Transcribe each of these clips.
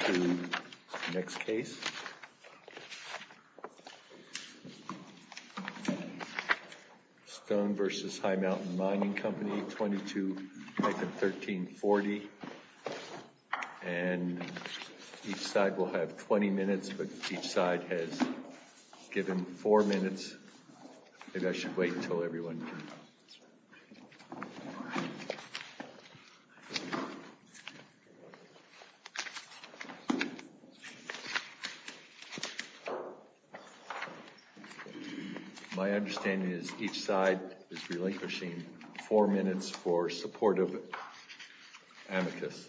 to next case. Stone v. High Mountain Mining Company, 22-1340. And each side will have 20 minutes, but each side has given four minutes. Maybe I should wait until everyone. My understanding is each side is relinquishing four minutes for supportive amicus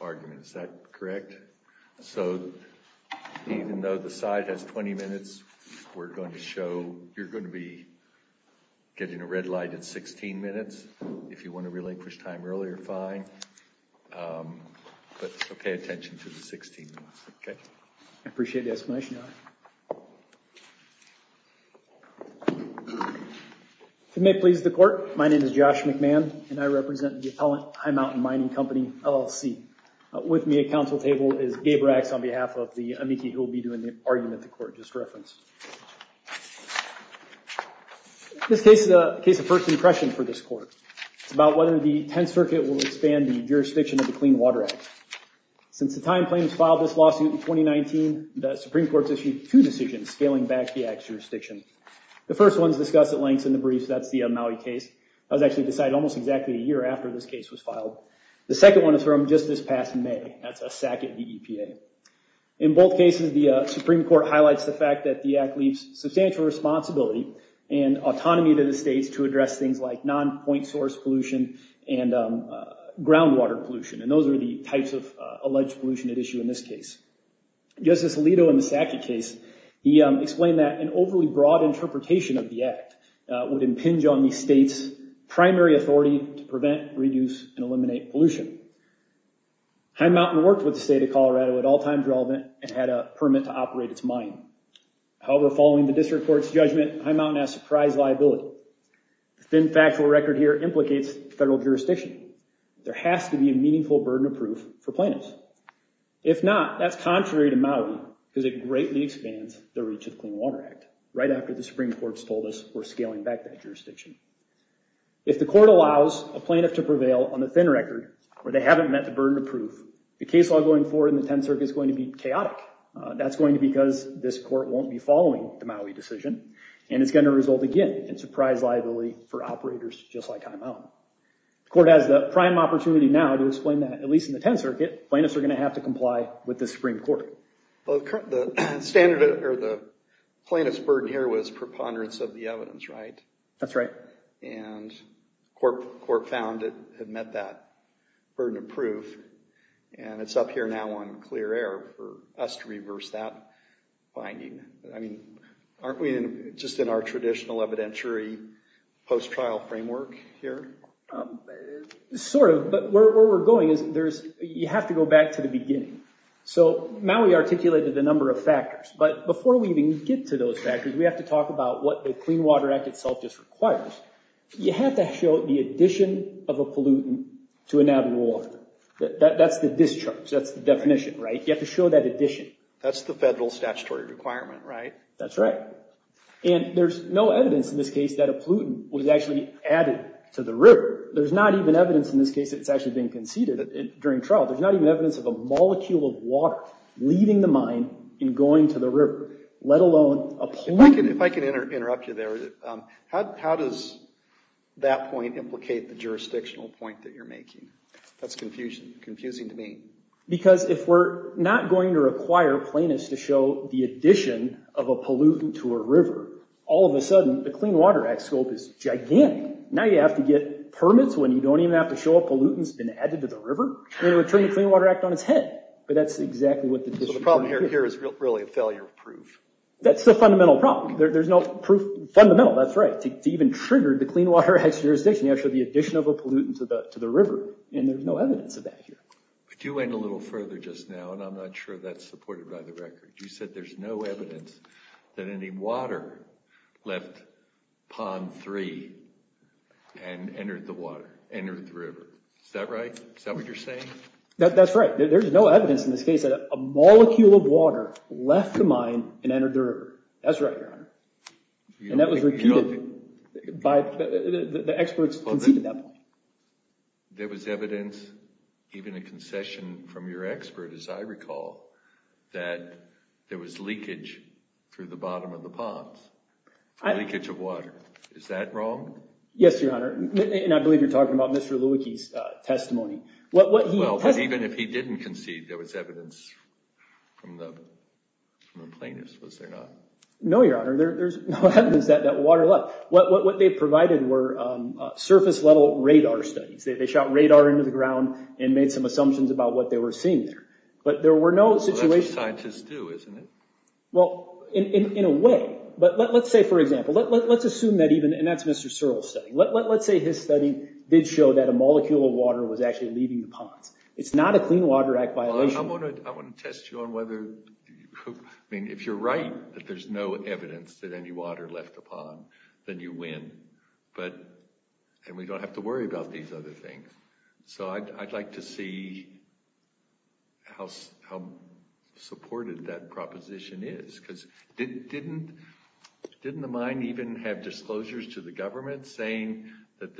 arguments. Is that correct? So even though the side has 20 minutes, we're going to show, you're going to be getting a red light at 16 minutes. If you want to relinquish time earlier, fine. But pay attention to the 16 minutes, okay? I appreciate the explanation. You may please the court. My name is Josh McMahon, and I represent the appellant, High Mountain Mining Company, LLC. With me at counsel table is Gabe Racks on behalf of the amici who will be doing the argument at the court, just for reference. This case is a case of first impression for this court. It's about whether the 10th Circuit will expand the jurisdiction of the Clean Water Act. Since the time claims filed this lawsuit in 2019, the Supreme Court's issued two decisions scaling back the act's jurisdiction. The first one is discussed at length in the brief. That's the Maui case. That was actually decided almost exactly a year after this case was filed. The second one is from just this past May. That's a sack at the EPA. In both cases, the Supreme Court highlights the fact that the act leaves substantial responsibility and autonomy to the states to address things like non-point source pollution and groundwater pollution. Those are the types of alleged pollution at issue in this case. Justice Alito in the Sackey case, he explained that an overly broad interpretation of the act would impinge on the state's primary authority to prevent, reduce, and eliminate pollution. High Mountain worked with the state of Colorado at all times relevant and had a permit to operate its mine. However, following the district court's judgment, High Mountain has surprise liability. The thin factual record here implicates federal jurisdiction. There has to be a meaningful burden of proof for plaintiffs. If not, that's contrary to Maui because it greatly expands the reach of the Clean Water Act right after the Supreme Court's told us we're scaling back that jurisdiction. If the court allows a plaintiff to prevail on the thin record where they haven't met the burden of proof, the case law going forward in the 10th Circuit is going to be chaotic. That's going to be because this court won't be following the Maui decision and it's going to result again in surprise liability for operators just like High Mountain. The court has the prime opportunity now to explain that at least in the 10th Circuit, plaintiffs are going to have to comply with the Supreme Court. The plaintiff's burden here was preponderance of the evidence, right? That's right. Court found it had met that burden of proof and it's up here now on clear air for us to reverse that finding. Aren't we just in our traditional evidentiary post-trial framework here? Sort of, but where we're going is you have to go back to the beginning. Maui articulated a number of factors, but before we even get to those factors, we have to talk about what the Clean Water Act itself just requires. You have to show the addition of a pollutant to an added water. That's the discharge. That's the definition, right? You have to show that addition. That's the federal statutory requirement, right? That's right. There's no evidence in this case that a pollutant was actually added to the river. There's not even evidence in this case that it's actually been conceded during trial. There's not even evidence of a molecule of water leaving the mine and going to the river, let alone a pollutant. If I can interrupt you there, how does that point implicate the jurisdictional point that you're making? That's confusing to me. Because if we're not going to require plaintiffs to show the addition of a pollutant to a river, all of a sudden, the Clean Water Act scope is gigantic. Now you have to get permits when you don't even have to show a pollutant's been added to the river? They would turn the Clean Water Act on its head, but that's exactly what the district... The problem here is really a failure of proof. That's the fundamental problem. There's no proof. Fundamental, that's right. To even trigger the Clean Water Act jurisdiction, you have to show the addition of a pollutant to the river, and there's no evidence of that here. But you went a little further just now, and I'm not sure that's supported by the record. You said there's no evidence that any water left Pond 3 and entered the water, entered the river. Is that right? Is that what you're saying? That's right. There's no evidence in this case that a molecule of water left the mine and entered the river. That's right, Your Honor. And that was repeated by the experts conceded at that point. There was evidence, even a concession from your expert, as I recall, that there was leakage through the bottom of the ponds, leakage of water. Is that wrong? Yes, Your Honor. And I believe you're talking about Mr. Lewicki's testimony. Well, but even if he didn't concede, there was evidence from the plaintiffs, was there not? No, Your Honor. There's no evidence that water left. What they provided were surface-level radar studies. They shot radar into the ground and made some assumptions about what they were seeing there. But there were no situations... Well, that's what scientists do, isn't it? Well, in a way. But let's say, for example, let's assume that even... And that's Mr. Searle's study. Let's say his study did show that a molecule of water was actually leaving the ponds. It's not a Clean Water Act violation. I want to test you on whether... I mean, if you're right that there's no evidence that any water left the pond, then you win. And we don't have to worry about these other things. So I'd like to see how supported that proposition is. Because didn't the mine even have disclosures to the government saying that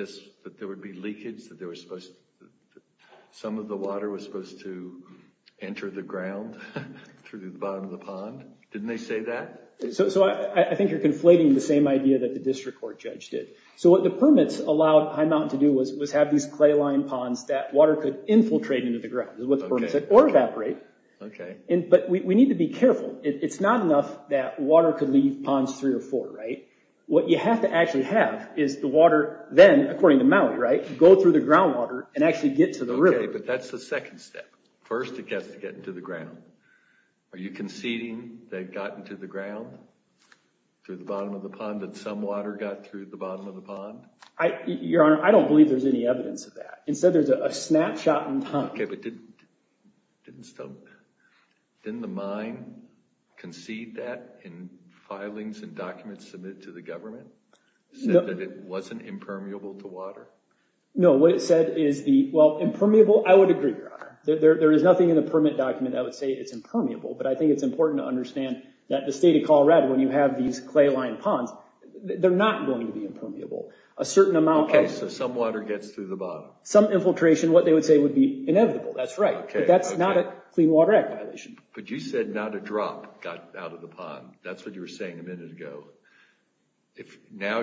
there would be leakage, that some of the water was supposed to enter the ground through the bottom of the pond? Didn't they say that? So I think you're conflating the same idea that the district court judge did. So what the permits allowed High Mountain to do was have these clay-lined ponds that water could infiltrate into the ground, is what the permits said, or evaporate. But we need to be careful. It's not enough that water could leave ponds three or four. What you have to actually have is the water then, according to Maui, go through the groundwater and actually get to the river. Okay, but that's the second step. First, it has to get into the ground. Are you conceding that it got into the ground, through the bottom of the pond, that some water got through the bottom of the pond? Your Honor, I don't believe there's any evidence of that. Instead, there's a snapshot in time. Okay, but didn't the mine concede that in filings and documents submitted to the government? That it wasn't impermeable to water? No, what it said is the, well, impermeable, I would agree, Your Honor. There is nothing in the permit document that would say it's impermeable, but I think it's important to understand that the state of Colorado, when you have these clay-lined ponds, they're not going to be impermeable. Okay, so some water gets through the bottom. Some infiltration, what they would say, would be inevitable. That's right, but that's not a Clean Water Act violation. But you said not a drop got out of the pond. That's what you were saying a minute ago. Now,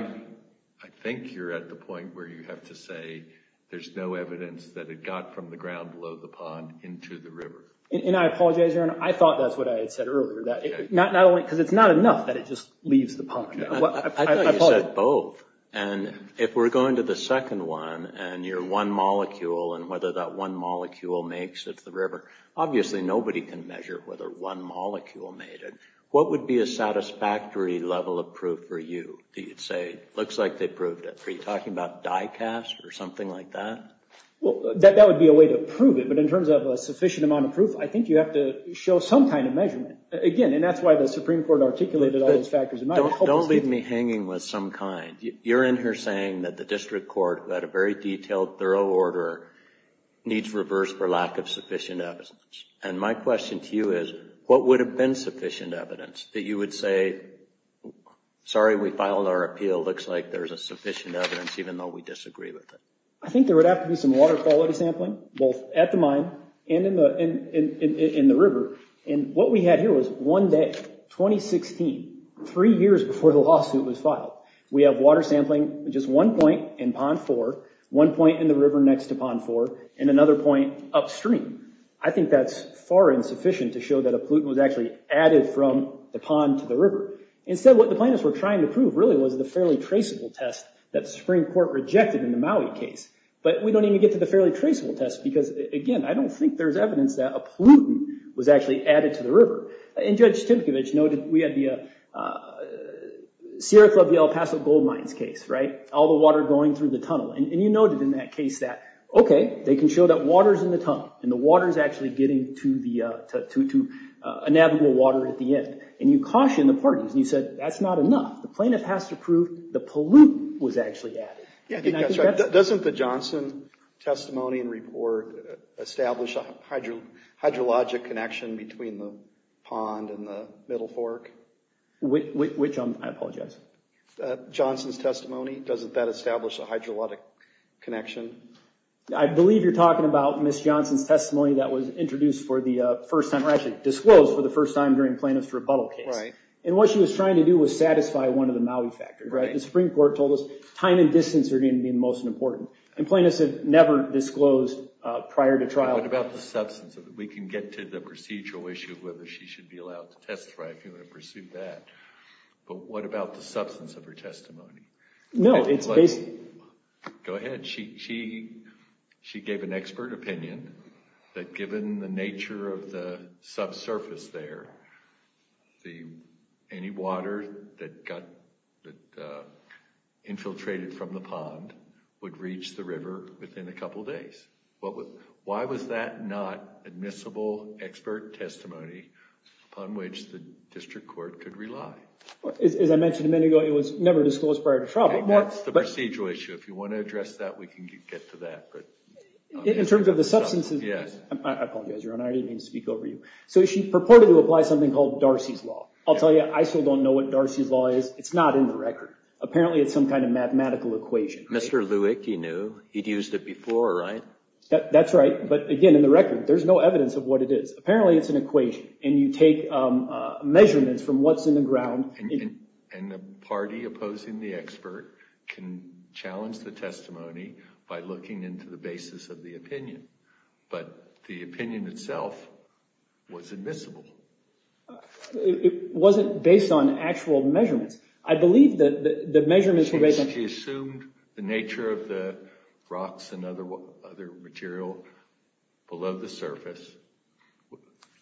I think you're at the point where you have to say there's no evidence that it got from the ground below the pond into the river. And I apologize, Your Honor, I thought that's what I had said earlier. Because it's not enough that it just leaves the pond. I thought you said both. And if we're going to the second one, and you're one molecule, and whether that one molecule makes it to the river, obviously nobody can measure whether one molecule made it. What would be a satisfactory level of proof for you? You'd say, looks like they proved it. Are you talking about die-cast or something like that? That would be a way to prove it. But in terms of a sufficient amount of proof, I think you have to show some kind of measurement. Again, and that's why the Supreme Court articulated all those factors. Don't leave me hanging with some kind. You're in here saying that the district court, who had a very detailed, thorough order, needs reverse for lack of sufficient evidence. And my question to you is, what would have been sufficient evidence that you would say, sorry, we filed our appeal, looks like there's a sufficient evidence, even though we disagree with it? I think there would have to be some water quality sampling, both at the mine and in the river. And what we had here was one day, 2016, three years before the lawsuit was filed. We have water sampling at just one point in Pond 4, one point in the river next to Pond 4, and another point upstream. I think that's far insufficient to show that a pollutant was actually added from the pond to the river. Instead, what the plaintiffs were trying to prove, really, was the fairly traceable test that the Supreme Court rejected in the Maui case. But we don't even get to the fairly traceable test because, again, I don't think there's evidence that a pollutant was actually added to the river. And Judge Timkovich noted we had the Sierra Club, the El Paso gold mines case, right? All the water going through the tunnel. And you noted in that case that, okay, they can show that water's in the tunnel, and the water's actually getting to a navigable water at the end. And you cautioned the parties, and you said, that's not enough. The plaintiff has to prove the pollutant was actually added. Yeah, I think that's right. Doesn't the Johnson testimony and report establish a hydrologic connection between the pond and the Middle Fork? Which, I apologize? Johnson's testimony, doesn't that establish a hydrologic connection? I believe you're talking about Ms. Johnson's testimony that was introduced for the first time, or actually disclosed for the first time during the plaintiff's rebuttal case. Right. And what she was trying to do was satisfy one of the Maui factors, right? The Supreme Court told us time and distance are going to be most important. And plaintiffs have never disclosed prior to trial. What about the substance of it? We can get to the procedural issue of whether she should be allowed to testify if you want to pursue that. But what about the substance of her testimony? No, it's basically... Go ahead. She gave an expert opinion that given the nature of the subsurface there, any water that infiltrated from the pond would reach the river within a couple days. Why was that not admissible expert testimony upon which the district court could rely? As I mentioned a minute ago, it was never disclosed prior to trial. That's the procedural issue. If you want to address that, we can get to that. In terms of the substance, I apologize, Your Honor, I didn't mean to speak over you. So she purported to apply something called Darcy's Law. I'll tell you, I still don't know what Darcy's Law is. It's not in the record. Apparently, it's some kind of mathematical equation. Mr. Lewick, you knew. He'd used it before, right? That's right. But again, in the record, there's no evidence of what it is. Apparently, it's an equation, and you take measurements from what's in the ground. And the party opposing the expert can challenge the testimony by looking into the basis of the opinion. But the opinion itself was admissible. It wasn't based on actual measurements. I believe that the measurements were based on... She assumed the nature of the rocks and other material below the surface.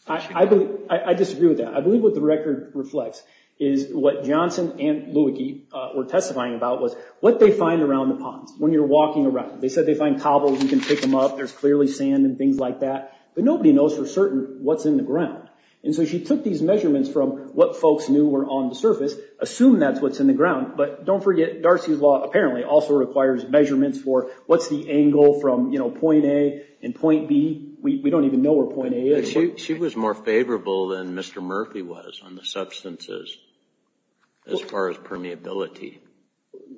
I disagree with that. I believe what the record reflects is what Johnson and Lewicki were testifying about was what they find around the ponds when you're walking around. They said they find cobbles. You can pick them up. There's clearly sand and things like that. But nobody knows for certain what's in the ground. And so she took these measurements from what folks knew were on the surface, assumed that's what's in the ground. But don't forget, Darcy's Law apparently also requires measurements for what's the angle from point A and point B. We don't even know where point A is. She was more favorable than Mr. Murphy was on the substances as far as permeability.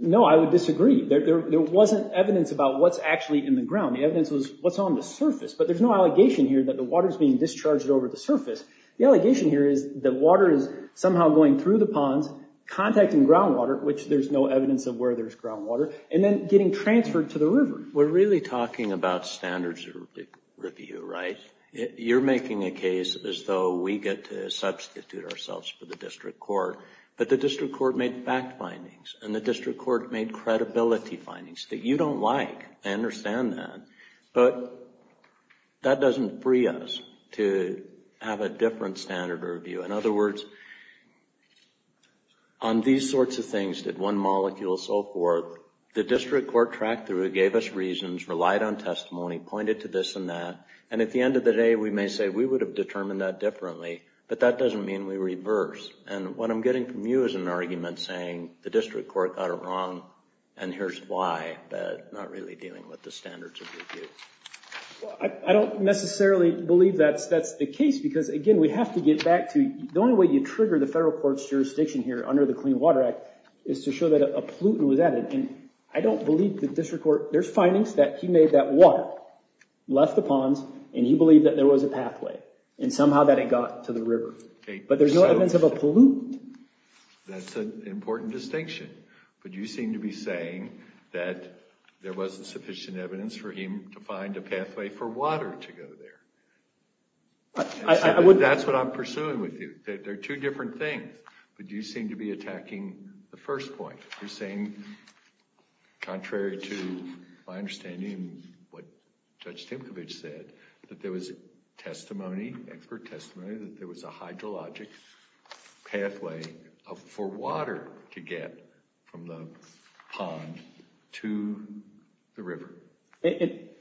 No, I would disagree. There wasn't evidence about what's actually in the ground. The evidence was what's on the surface. But there's no allegation here that the water's being discharged over the surface. The allegation here is that water is somehow going through the ponds, contacting groundwater, which there's no evidence of where there's groundwater, and then getting transferred to the river. We're really talking about standards review, right? You're making a case as though we get to substitute ourselves for the district court. But the district court made fact findings, and the district court made credibility findings that you don't like. I understand that. But that doesn't free us to have a different standard of review. In other words, on these sorts of things, did one molecule, so forth, the district court tracked through it, gave us reasons, relied on testimony, pointed to this and that. And at the end of the day, we may say we would have determined that differently. But that doesn't mean we reverse. And what I'm getting from you is an argument saying the district court got it wrong, and here's why. Not really dealing with the standards of review. I don't necessarily believe that's the case, because again, we have to get back to, the only way you trigger the federal court's jurisdiction here under the Clean Water Act is to show that a pollutant was added. And I don't believe the district court, there's findings that he made that water left the ponds, and he believed that there was a pathway, and somehow that it got to the river. But there's no evidence of a pollutant. That's an important distinction. But you seem to be saying that there wasn't sufficient evidence for him to find a pathway for water to go there. That's what I'm pursuing with you. They're two different things. But you seem to be attacking the first point. You're saying, contrary to my understanding of what Judge Timkovich said, that there was testimony, expert testimony, that there was a hydrologic pathway for water to get from the pond to the river.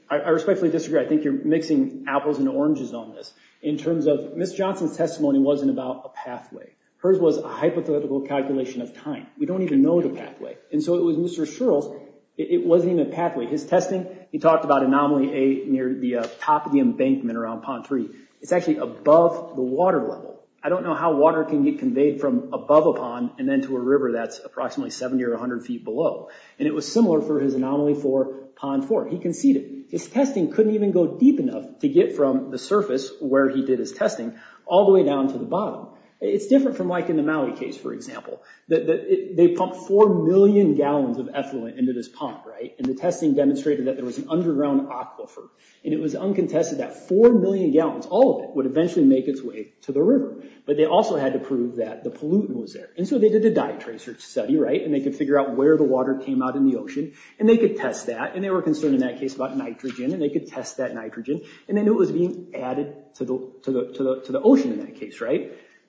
I respectfully disagree. I think you're mixing apples and oranges on this. In terms of, Ms. Johnson's testimony wasn't about a pathway. Hers was a hypothetical calculation of time. We don't even know the pathway. And so it was Mr. Shirl's, it wasn't even a pathway. His testing, he talked about anomaly A near the top of the embankment around Pond 3. It's actually above the water level. I don't know how water can get conveyed from above a pond and then to a river that's approximately 70 or 100 feet below. And it was similar for his anomaly for Pond 4. He conceded. His testing couldn't even go deep enough to get from the surface, where he did his testing, all the way down to the bottom. It's different from like in the Maui case, for example. They pumped four million gallons of ethylene into this pond. And the testing demonstrated that there was an underground aquifer. And it was uncontested that four million gallons, all of it, would eventually make its way to the river. But they also had to prove that the pollutant was there. And so they did a dye trace study. And they could figure out where the water came out in the ocean. And they could test that. And they were concerned in that case about nitrogen. And they could test that nitrogen. And they knew it was being added to the ocean in that case.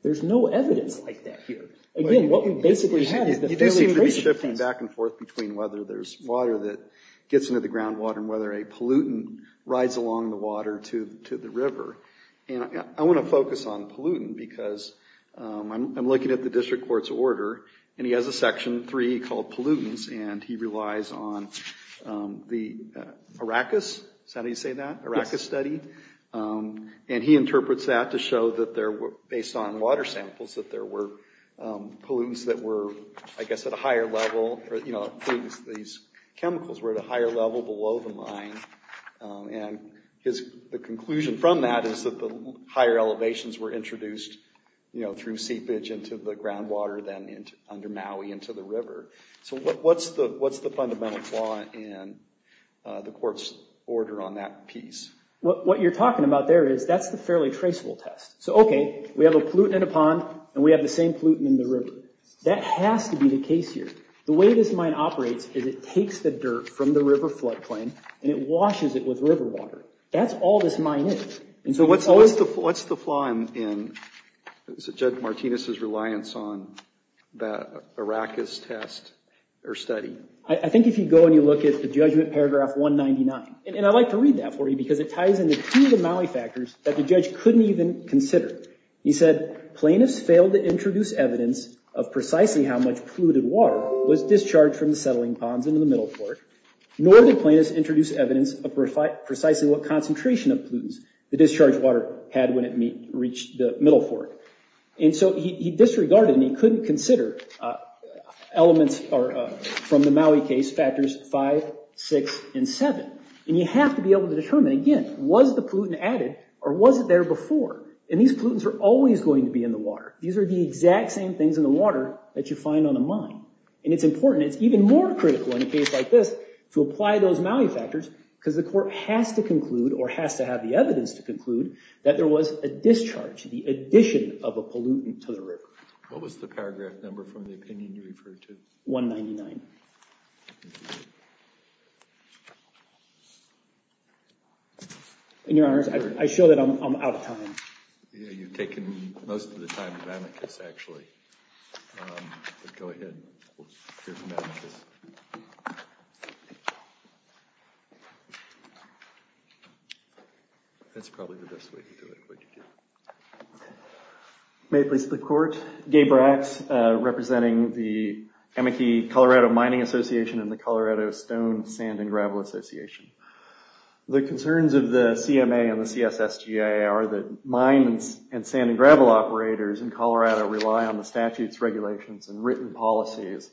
There's no evidence like that here. Again, what we basically had is the fairly traceable case. There seems to be some difference back and forth between whether there's water that gets into the groundwater and whether a pollutant rides along the water to the river. And I want to focus on pollutant because I'm looking at the district court's order. And he has a section 3 called pollutants. And he relies on the Arrakis. Is that how you say that? Yes. Arrakis study. And he interprets that to show that based on water samples, that there were pollutants that were, I guess, at a higher level. These chemicals were at a higher level below the mine. And the conclusion from that is that the higher elevations were introduced through seepage into the groundwater than under Maui into the river. So what's the fundamental flaw in the court's order on that piece? What you're talking about there is that's the fairly traceable test. So, okay, we have a pollutant in a pond and we have the same pollutant in the river. That has to be the case here. The way this mine operates is it takes the dirt from the river floodplain and it washes it with river water. That's all this mine is. So what's the flaw in Judge Martinez's reliance on that Arrakis test or study? I think if you go and you look at the Judgment Paragraph 199, and I like to read that for you because it ties into two of the Maui factors that the judge couldn't even consider. He said, Plaintiffs failed to introduce evidence of precisely how much polluted water was discharged from the settling ponds into the middle port, nor did plaintiffs introduce evidence of precisely what concentration of pollutants the discharged water had when it reached the middle port. And so he disregarded and he couldn't consider elements from the Maui case, factors 5, 6, and 7. And you have to be able to determine, again, was the pollutant added or was it there before? And these pollutants are always going to be in the water. These are the exact same things in the water that you find on a mine. And it's important. It's even more critical in a case like this to apply those Maui factors because the court has to conclude or has to have the evidence to conclude that there was a discharge, the addition of a pollutant to the river. What was the paragraph number from the opinion you referred to? 199. And your honors, I show that I'm out of time. You've taken most of the time of Amicus, actually. Go ahead. That's probably the best way to do it. May it please the court. Gabe Brax, representing the Amici Colorado Mining Association and the Colorado Stone, Sand, and Gravel Association. The concerns of the CMA and the CSSGA are that mine and sand and gravel operators in Colorado rely on the statutes, regulations, and written policies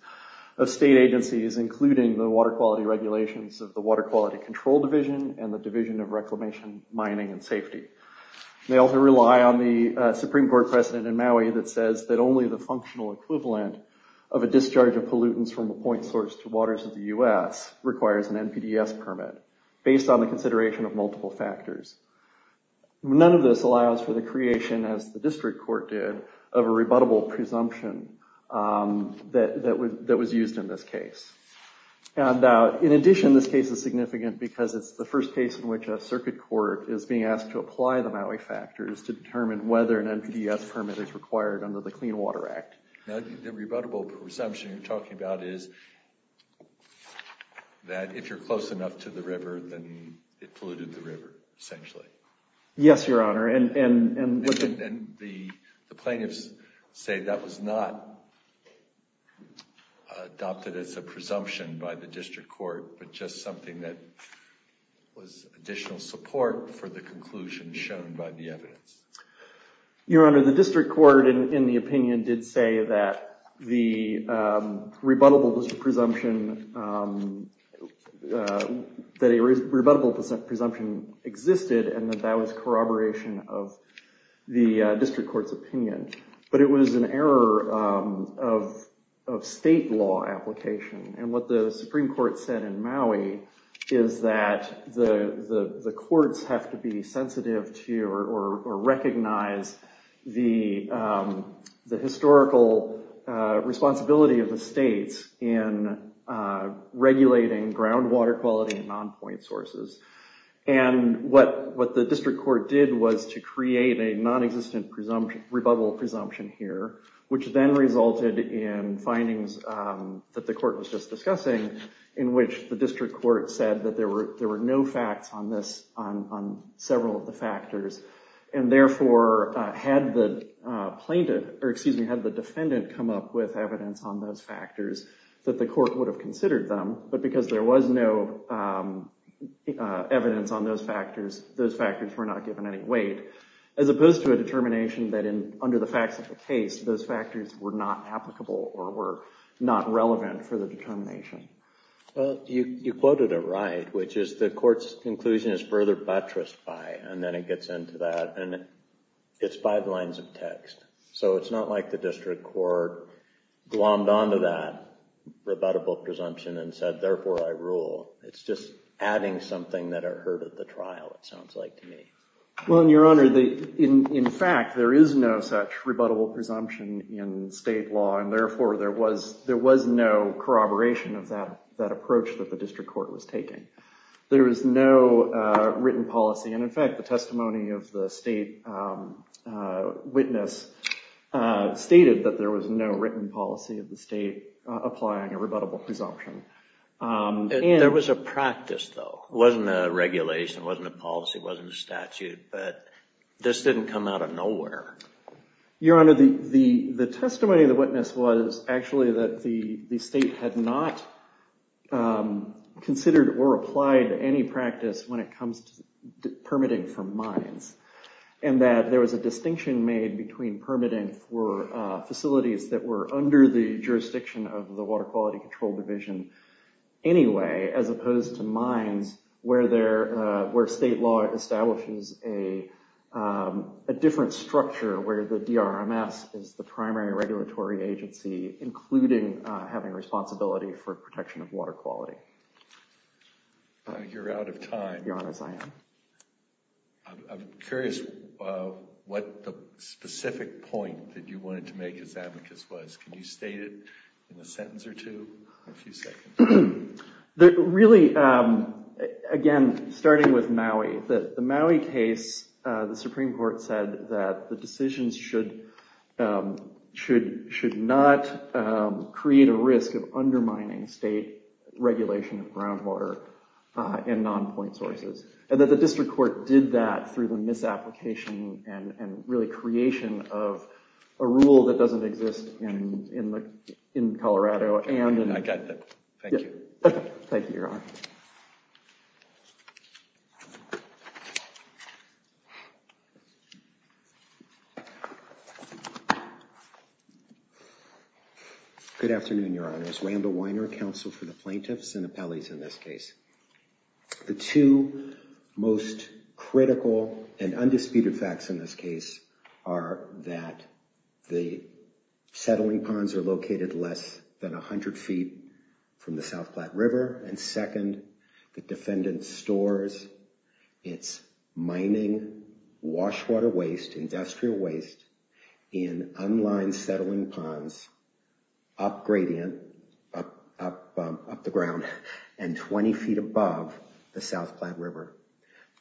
of state agencies, including the water quality regulations of the Water Quality Control Division and the Division of Reclamation, Mining, and Safety. They also rely on the Supreme Court precedent in Maui that says that only the functional equivalent of a discharge of pollutants from a point source to waters of the U.S. requires an NPDES permit based on the consideration of multiple factors. None of this allows for the creation, as the district court did, of a rebuttable presumption that was used in this case. In addition, this case is significant because it's the first case in which a circuit court is being asked to apply the Maui factors to determine whether an NPDES permit is required under the Clean Water Act. The rebuttable presumption you're talking about is that if you're close enough to the river, then it polluted the river, essentially. Yes, Your Honor. And the plaintiffs say that was not adopted as a presumption by the district court, but just something that was additional support for the conclusion shown by the evidence. Your Honor, the district court, in the opinion, did say that the rebuttable presumption existed and that that was corroboration of the district court's opinion. But it was an error of state law application. And what the Supreme Court said in Maui is that the courts have to be sensitive to or recognize the historical responsibility of the states in regulating groundwater quality and non-point sources. And what the district court did was to create a nonexistent rebuttal presumption here, which then resulted in findings that the court was just discussing, in which the district court said that there were no facts on several of the factors. And therefore, had the defendant come up with evidence on those factors, that the court would have considered them. But because there was no evidence on those factors, those factors were not given any weight, as opposed to a determination that under the facts of the case, those factors were not applicable or were not relevant for the determination. Well, you quoted it right, which is the court's conclusion is further buttressed by, and then it gets into that. And it's five lines of text. So it's not like the district court glommed onto that rebuttable presumption and said, therefore, I rule. It's just adding something that I heard at the trial, it sounds like to me. Well, Your Honor, in fact, there is no such rebuttable presumption in state law. And therefore, there was no corroboration of that approach that the district court was taking. There was no written policy. And in fact, the testimony of the state witness stated that there was no written policy of the state applying a rebuttable presumption. There was a practice, though. It wasn't a regulation. It wasn't a policy. It wasn't a statute. But this didn't come out of nowhere. Your Honor, the testimony of the witness was actually that the state had not considered or applied any practice when it comes to permitting for mines. And that there was a distinction made between permitting for facilities that were under the jurisdiction of the Water Quality Control Division anyway, as opposed to mines where state law establishes a different structure where the DRMS is the primary regulatory agency, including having responsibility for protection of water quality. You're out of time. Your Honor, I am. I'm curious what the specific point that you wanted to make as advocates was. Can you state it in a sentence or two or a few seconds? Really, again, starting with Maui. The Maui case, the Supreme Court said that the decisions should not create a risk of undermining state regulation of groundwater and non-point sources. And that the district court did that through the misapplication and really creation of a rule that doesn't exist in Colorado. I got that. Thank you. Thank you, Your Honor. Good afternoon, Your Honors. Randall Weiner, counsel for the plaintiffs and appellees in this case. The two most critical and undisputed facts in this case are that the settling ponds are located less than 100 feet from the South Platte River. And second, the defendant stores its mining, wash water waste, industrial waste in unlined settling ponds up gradient, up the ground, and 20 feet above the South Platte River.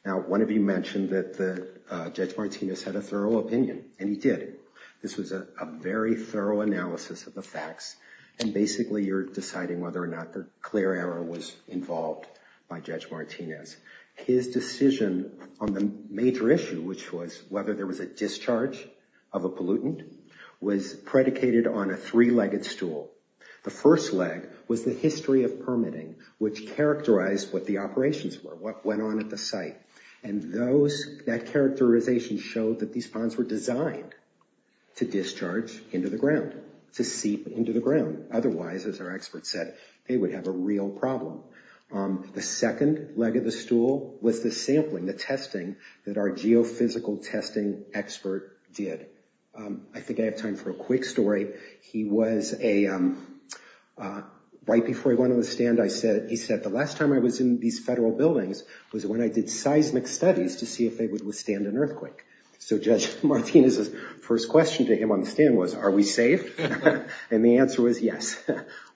Now, one of you mentioned that Judge Martinez had a thorough opinion, and he did. This was a very thorough analysis of the facts. And basically, you're deciding whether or not the clear error was involved by Judge Martinez. His decision on the major issue, which was whether there was a discharge of a pollutant, was predicated on a three-legged stool. The first leg was the history of permitting, which characterized what the operations were, what went on at the site. And that characterization showed that these ponds were designed to discharge into the ground, to seep into the ground. Otherwise, as our expert said, they would have a real problem. The second leg of the stool was the sampling, the testing that our geophysical testing expert did. I think I have time for a quick story. He was a—right before he went on the stand, he said, the last time I was in these federal buildings was when I did seismic studies to see if they would withstand an earthquake. So Judge Martinez's first question to him on the stand was, are we safe? And the answer was, yes,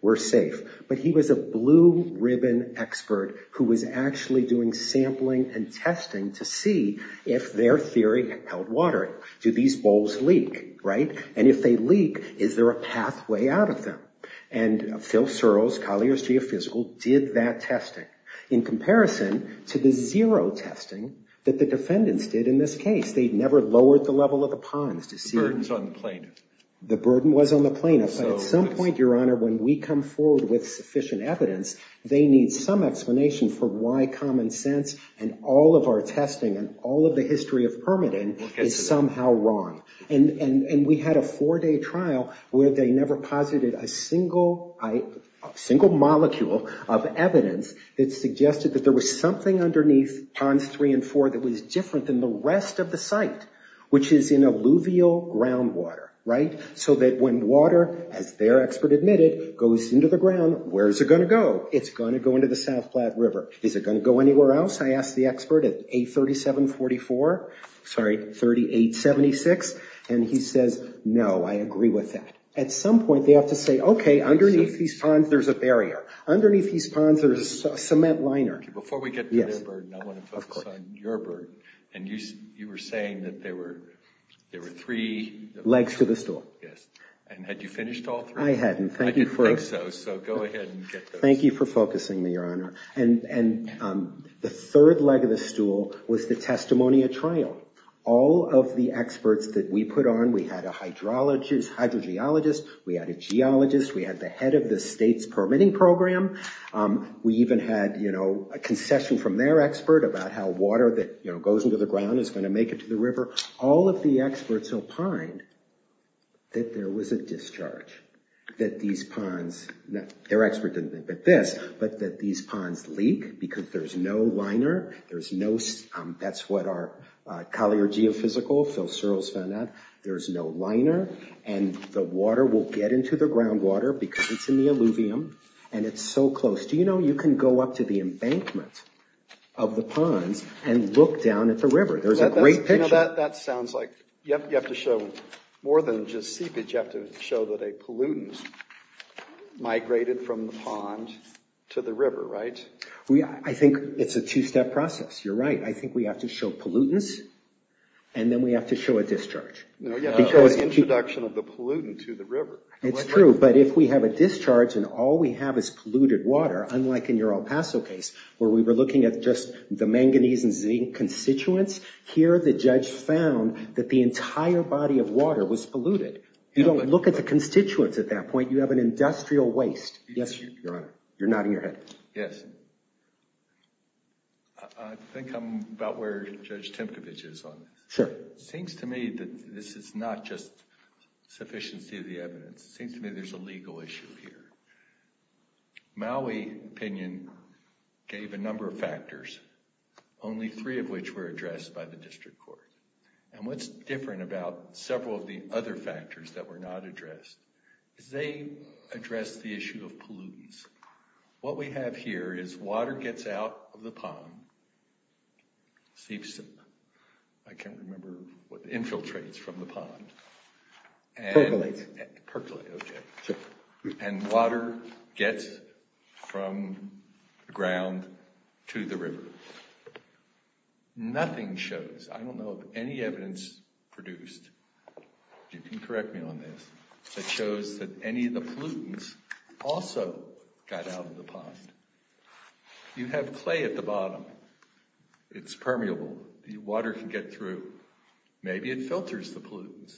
we're safe. But he was a blue-ribbon expert who was actually doing sampling and testing to see if their theory held water. Do these bowls leak, right? And if they leak, is there a pathway out of them? And Phil Searles, Collier's geophysical, did that testing in comparison to the zero testing that the defendants did in this case. They never lowered the level of the ponds to see— The burden's on the plaintiff. The burden was on the plaintiff. But at some point, Your Honor, when we come forward with sufficient evidence, they need some explanation for why common sense and all of our testing and all of the history of permitting is somehow wrong. And we had a four-day trial where they never posited a single molecule of evidence that suggested that there was something underneath Ponds 3 and 4 that was different than the rest of the site, which is in alluvial groundwater, right? So that when water, as their expert admitted, goes into the ground, where is it going to go? It's going to go into the South Platte River. Is it going to go anywhere else? I asked the expert at A3744—sorry, 3876, and he says, no, I agree with that. At some point, they have to say, okay, underneath these ponds, there's a barrier. Underneath these ponds, there's a cement liner. Before we get to their burden, I want to focus on your burden. And you were saying that there were three— Legs to the store. Yes. And had you finished all three? I hadn't. I didn't think so, so go ahead and get those. Thank you for focusing me, Your Honor. The third leg of the stool was the testimony at trial. All of the experts that we put on, we had a hydrogeologist, we had a geologist, we had the head of the state's permitting program. We even had a concession from their expert about how water that goes into the ground is going to make it to the river. All of the experts opined that there was a discharge, that these ponds—their expert didn't think but this—but that these ponds leak because there's no liner. There's no—that's what our collier geophysical, Phil Searles, found out. There's no liner, and the water will get into the groundwater because it's in the alluvium, and it's so close. Do you know you can go up to the embankment of the ponds and look down at the river? There's a great picture. That sounds like—you have to show more than just seepage. You have to show that a pollutant migrated from the pond to the river, right? I think it's a two-step process. You're right. I think we have to show pollutants, and then we have to show a discharge. No, you have to show an introduction of the pollutant to the river. It's true, but if we have a discharge and all we have is polluted water, unlike in your El Paso case where we were looking at just the manganese and zinc constituents, here the judge found that the entire body of water was polluted. You don't look at the constituents at that point. You have an industrial waste. Yes, Your Honor. You're nodding your head. Yes. I think I'm about where Judge Timkovich is on this. Sure. It seems to me that this is not just sufficiency of the evidence. It seems to me there's a legal issue here. Maui opinion gave a number of factors, only three of which were addressed by the district court. And what's different about several of the other factors that were not addressed is they addressed the issue of pollutants. What we have here is water gets out of the pond, seeps in. I can't remember what infiltrates from the pond. Percolates. Percolates, okay. And water gets from the ground to the river. Nothing shows, I don't know of any evidence produced, if you can correct me on this, that shows that any of the pollutants also got out of the pond. You have clay at the bottom. It's permeable. The water can get through. Maybe it filters the pollutants.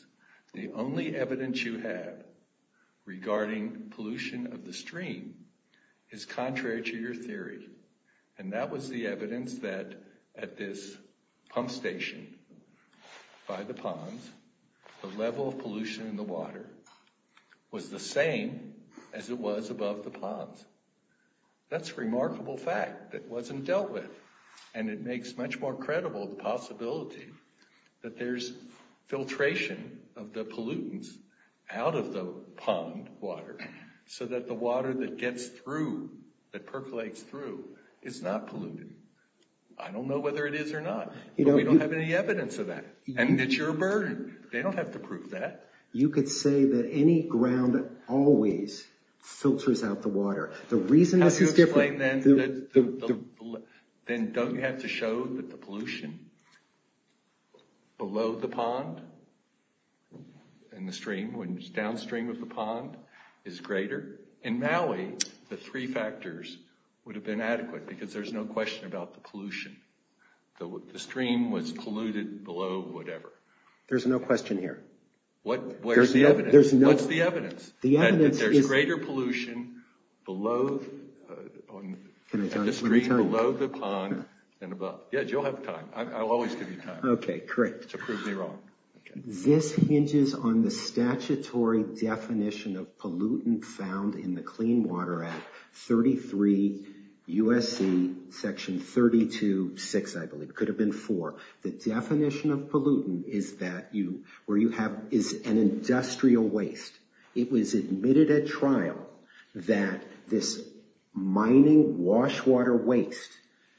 The only evidence you have regarding pollution of the stream is contrary to your theory. And that was the evidence that at this pump station by the pond, the level of pollution in the water was the same as it was above the pond. That's a remarkable fact that wasn't dealt with. And it makes much more credible the possibility that there's filtration of the pollutants out of the pond water so that the water that gets through, that percolates through, is not polluted. I don't know whether it is or not, but we don't have any evidence of that. And it's your burden. They don't have to prove that. You could say that any ground always filters out the water. Then don't you have to show that the pollution below the pond and the stream, downstream of the pond, is greater? In Maui, the three factors would have been adequate because there's no question about the pollution. The stream was polluted below whatever. There's no question here. What's the evidence? There's greater pollution below the stream, below the pond, and above. Yes, you'll have time. I'll always give you time. Okay, great. To prove me wrong. This hinges on the statutory definition of pollutant found in the Clean Water Act, 33 U.S.C. section 32.6, I believe. It could have been 4. The definition of pollutant is an industrial waste. It was admitted at trial that this mining wash water waste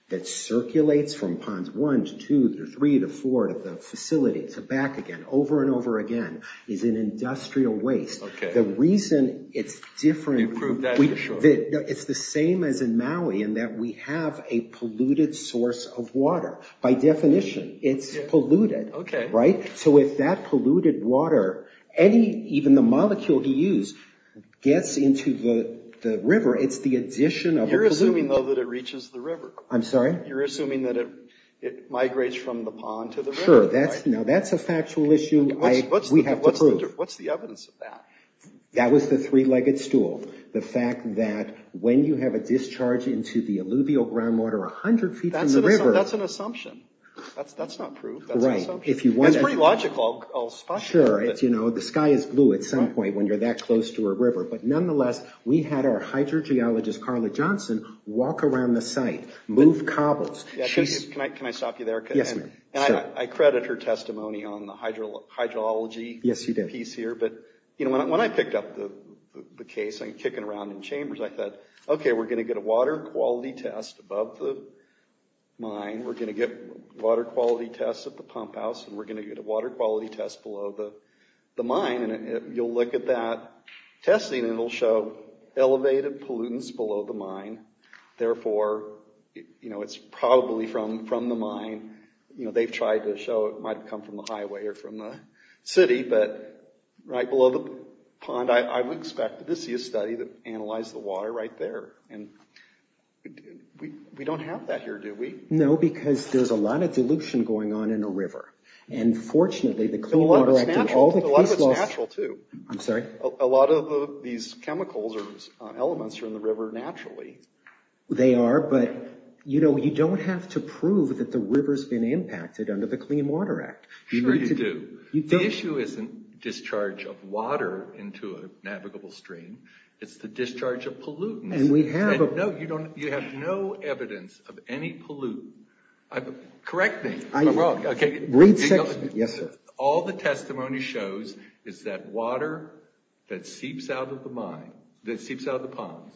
that circulates from Ponds 1 to 2 to 3 to 4 to the facility to back again, over and over again, is an industrial waste. Okay. The reason it's different. You proved that for sure. It's the same as in Maui in that we have a polluted source of water. By definition, it's polluted. Okay. Right? So if that polluted water, even the molecule he used, gets into the river, it's the addition of a pollutant. You're assuming, though, that it reaches the river. I'm sorry? You're assuming that it migrates from the pond to the river. Sure. Now, that's a factual issue. We have to prove. What's the evidence of that? That was the three-legged stool. The fact that when you have a discharge into the alluvial groundwater 100 feet from the river. That's an assumption. That's not proof. Right. That's pretty logical. I'll spot you. Sure. The sky is blue at some point when you're that close to a river. But nonetheless, we had our hydrogeologist, Carla Johnson, walk around the site, move cobbles. Can I stop you there? Yes, sir. I credit her testimony on the hydrology piece here. Yes, you did. But when I picked up the case, I'm kicking around in chambers, I thought, okay, we're going to get a water quality test above the mine. We're going to get water quality tests at the pump house. And we're going to get a water quality test below the mine. And you'll look at that testing, and it'll show elevated pollutants below the mine. Therefore, it's probably from the mine. They've tried to show it might have come from the highway or from the city. But right below the pond, I would expect to see a study that analyzed the water right there. And we don't have that here, do we? No, because there's a lot of dilution going on in a river. And fortunately, the Clean Water Act and all the case laws— A lot of it's natural, too. I'm sorry? A lot of these chemicals or elements are in the river naturally. They are, but you don't have to prove that the river's been impacted under the Clean Water Act. Sure, you do. You don't. The issue isn't discharge of water into a navigable stream. It's the discharge of pollutants. And we have— No, you don't. You have no evidence of any pollutant. Correct me. I'm wrong. Read section. Yes, sir. All the testimony shows is that water that seeps out of the pond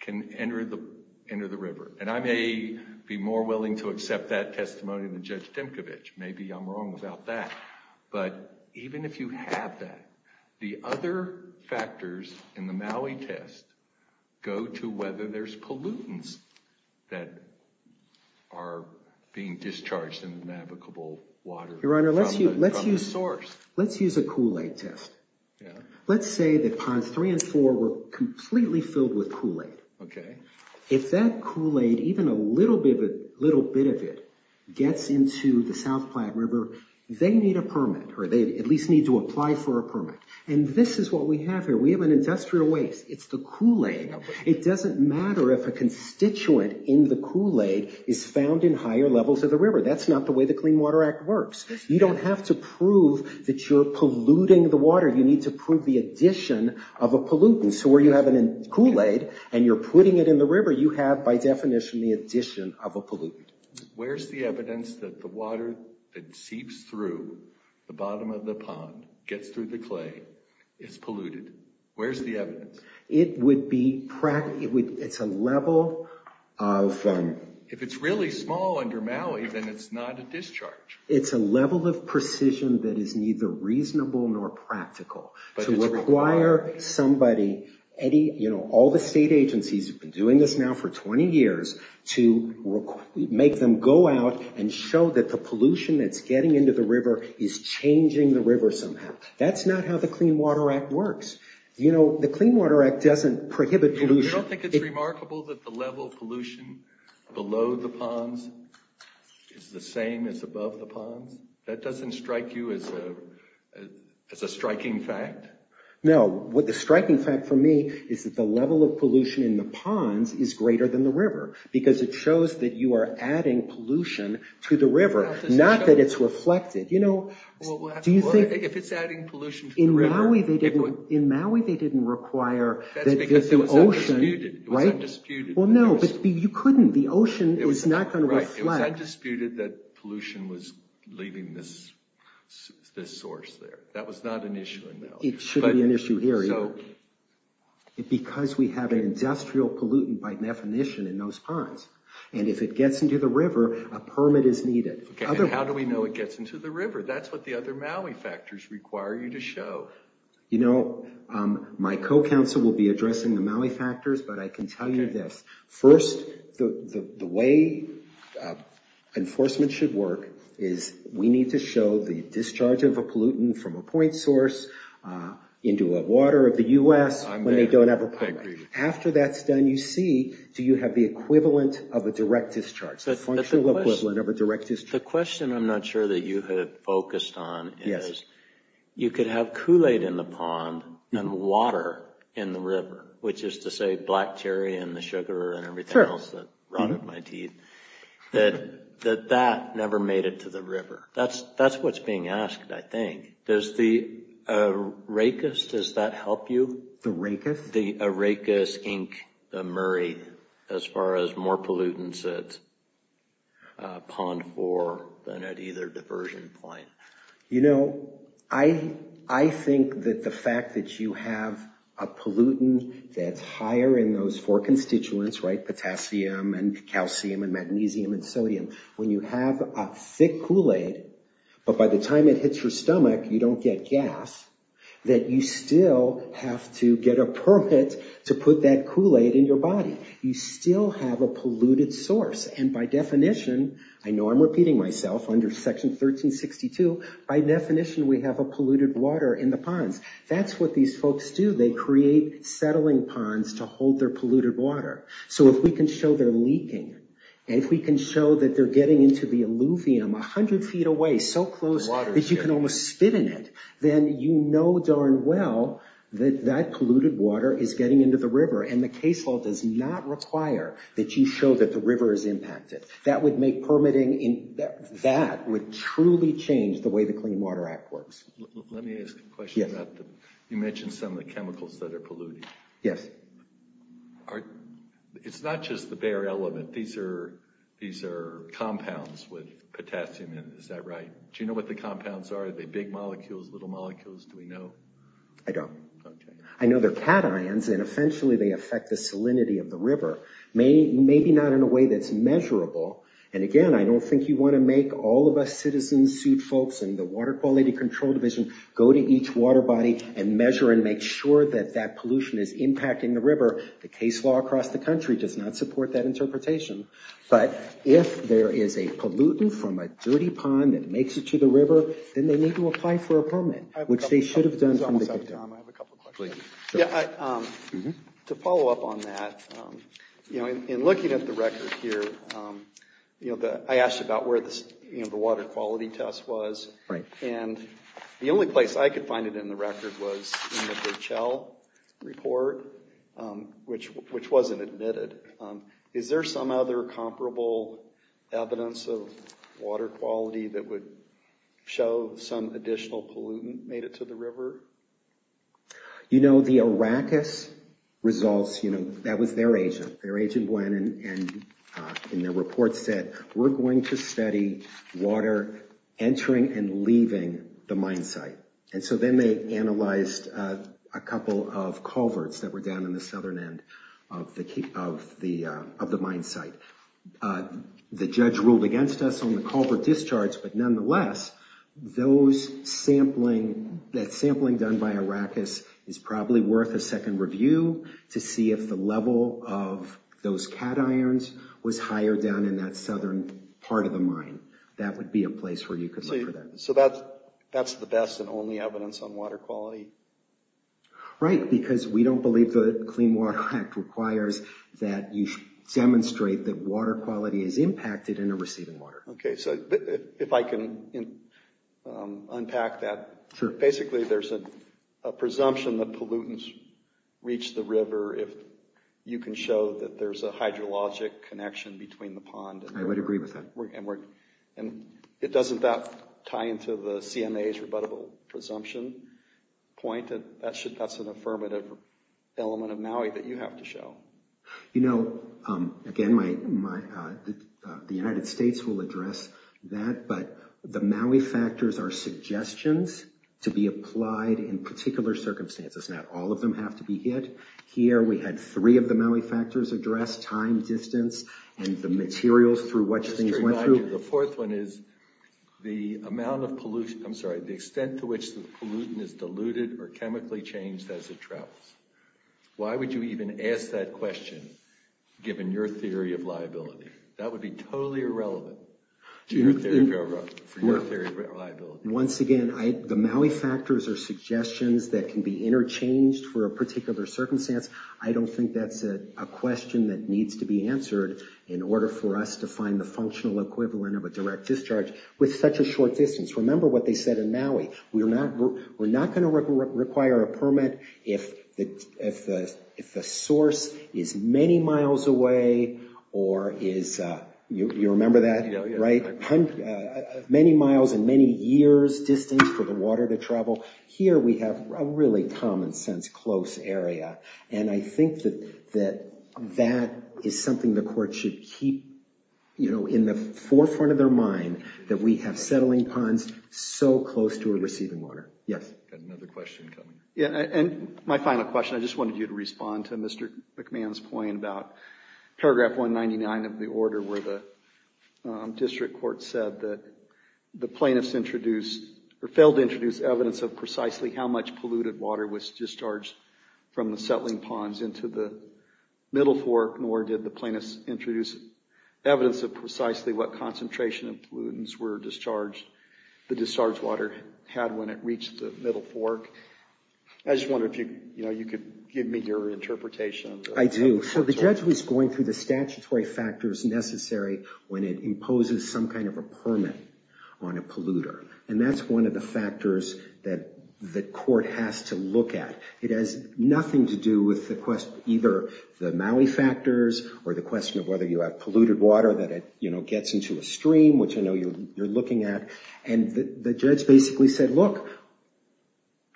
can enter the river. And I may be more willing to accept that testimony than Judge Dimkovich. Maybe I'm wrong about that. But even if you have that, the other factors in the Maui test go to whether there's pollutants that are being discharged in the navigable water— Your Honor, let's use a Kool-Aid test. Let's say that Ponds 3 and 4 were completely filled with Kool-Aid. Okay. If that Kool-Aid, even a little bit of it, gets into the South Platte River, they need a permit, or they at least need to apply for a permit. And this is what we have here. We have an industrial waste. It's the Kool-Aid. It doesn't matter if a constituent in the Kool-Aid is found in higher levels of the river. That's not the way the Clean Water Act works. You don't have to prove that you're polluting the water. You need to prove the addition of a pollutant. So where you have a Kool-Aid and you're putting it in the river, you have, by definition, the addition of a pollutant. Where's the evidence that the water that seeps through the bottom of the pond, gets through the clay, is polluted? Where's the evidence? It would be—it's a level of— If it's really small under Maui, then it's not a discharge. It's a level of precision that is neither reasonable nor practical. To require somebody, any, you know, all the state agencies have been doing this now for 20 years, to make them go out and show that the pollution that's getting into the river is changing the river somehow. That's not how the Clean Water Act works. You know, the Clean Water Act doesn't prohibit pollution. You don't think it's remarkable that the level of pollution below the ponds is the same as above the ponds? That doesn't strike you as a striking fact? No. The striking fact for me is that the level of pollution in the ponds is greater than the river, because it shows that you are adding pollution to the river, not that it's reflected. You know, do you think— Well, if it's adding pollution to the river— In Maui, they didn't require that the ocean— That's because it was undisputed. Right? It was undisputed. Well, no, but you couldn't. The ocean is not going to reflect. It was undisputed that pollution was leaving this source there. That was not an issue in Maui. It shouldn't be an issue here, either. So— Because we have an industrial pollutant by definition in those ponds, and if it gets into the river, a permit is needed. Okay, and how do we know it gets into the river? That's what the other Maui factors require you to show. You know, my co-counsel will be addressing the Maui factors, but I can tell you this. First, the way enforcement should work is we need to show the discharge of a pollutant from a point source into a water of the U.S. when they don't have a permit. I agree. After that's done, you see, do you have the equivalent of a direct discharge, the functional equivalent of a direct discharge? The question I'm not sure that you have focused on is, you could have Kool-Aid in the pond and water in the river, which is to say black cherry and the sugar and everything else that rotted my teeth, that that never made it to the river. That's what's being asked, I think. Does the Arrakis, does that help you? The Arrakis? The Arrakis, Inc., the Murray, as far as more pollutants at Pond 4 than at either diversion point. You know, I think that the fact that you have a pollutant that's higher in those four constituents, potassium and calcium and magnesium and sodium, when you have a thick Kool-Aid, but by the time it hits your stomach, you don't get gas, that you still have to get a permit to put that Kool-Aid in your body. You still have a polluted source, and by definition, I know I'm repeating myself, under Section 1362, by definition we have a polluted water in the ponds. That's what these folks do. They create settling ponds to hold their polluted water. So if we can show they're leaking, and if we can show that they're getting into the alluvium 100 feet away, so close that you can almost spit in it, then you know darn well that that polluted water is getting into the river, and the case law does not require that you show that the river is impacted. That would make permitting, that would truly change the way the Clean Water Act works. Let me ask a question about the, you mentioned some of the chemicals that are polluting. Yes. It's not just the bare element. These are compounds with potassium in them. Is that right? Do you know what the compounds are? Are they big molecules, little molecules? Do we know? I don't. I know they're cations, and essentially they affect the salinity of the river. Maybe not in a way that's measurable. And again, I don't think you want to make all of us citizen suit folks and the Water Quality Control Division go to each water body and measure and make sure that that pollution is impacting the river. The case law across the country does not support that interpretation. But if there is a pollutant from a dirty pond that makes it to the river, then they need to apply for a permit, which they should have done from the get-go. I'm sorry, Tom, I have a couple of questions. To follow up on that, in looking at the record here, I asked about where the water quality test was, and the only place I could find it in the record was in the Purcell report, which wasn't admitted. Is there some other comparable evidence of water quality that would show some additional pollutant made it to the river? You know, the Arrakis results, you know, that was their agent. Their agent went and in their report said, we're going to study water entering and leaving the mine site. And so then they analyzed a couple of culverts that were down in the southern end of the mine site. The judge ruled against us on the culvert discharge, but nonetheless, that sampling done by Arrakis is probably worth a second review to see if the level of those cations was higher down in that southern part of the mine. That would be a place where you could look for that. So that's the best and only evidence on water quality? Right, because we don't believe the Clean Water Act requires that you demonstrate that water quality is impacted in a receiving water. Okay, so if I can unpack that. Basically, there's a presumption that pollutants reach the river if you can show that there's a hydrologic connection between the pond and the river. I would agree with that. And it doesn't that tie into the CMA's rebuttable presumption point? That's an affirmative element of MAUI that you have to show. You know, again, the United States will address that, but the MAUI factors are suggestions to be applied in particular circumstances. Not all of them have to be hit. Here we had three of the MAUI factors addressed, time, distance, and the materials through which things went through. The fourth one is the amount of pollution, I'm sorry, the extent to which the pollutant is diluted or chemically changed as it travels. Why would you even ask that question given your theory of liability? That would be totally irrelevant for your theory of liability. Once again, the MAUI factors are suggestions that can be interchanged for a particular circumstance. I don't think that's a question that needs to be answered in order for us to find the functional equivalent of a direct discharge with such a short distance. Remember what they said in MAUI. We're not going to require a permit if the source is many miles away or is, you remember that, right? Many miles and many years distance for the water to travel. Here we have a really common sense close area, and I think that that is something the court should keep in the forefront of their mind that we have settling ponds so close to a receiving water. Yes? I've got another question coming. Yeah, and my final question, I just wanted you to respond to Mr. McMahon's point about paragraph 199 of the order where the district court said that the plaintiffs introduced or failed to introduce evidence of precisely how much polluted water was discharged from the settling ponds into the middle fork, nor did the plaintiffs introduce evidence of precisely what concentration of pollutants the discharged water had when it reached the middle fork. I just wondered if you could give me your interpretation. I do. So the judge was going through the statutory factors necessary when it imposes some kind of a permit on a polluter, and that's one of the factors that the court has to look at. It has nothing to do with either the Maui factors or the question of whether you have polluted water that gets into a stream, which I know you're looking at. And the judge basically said, look,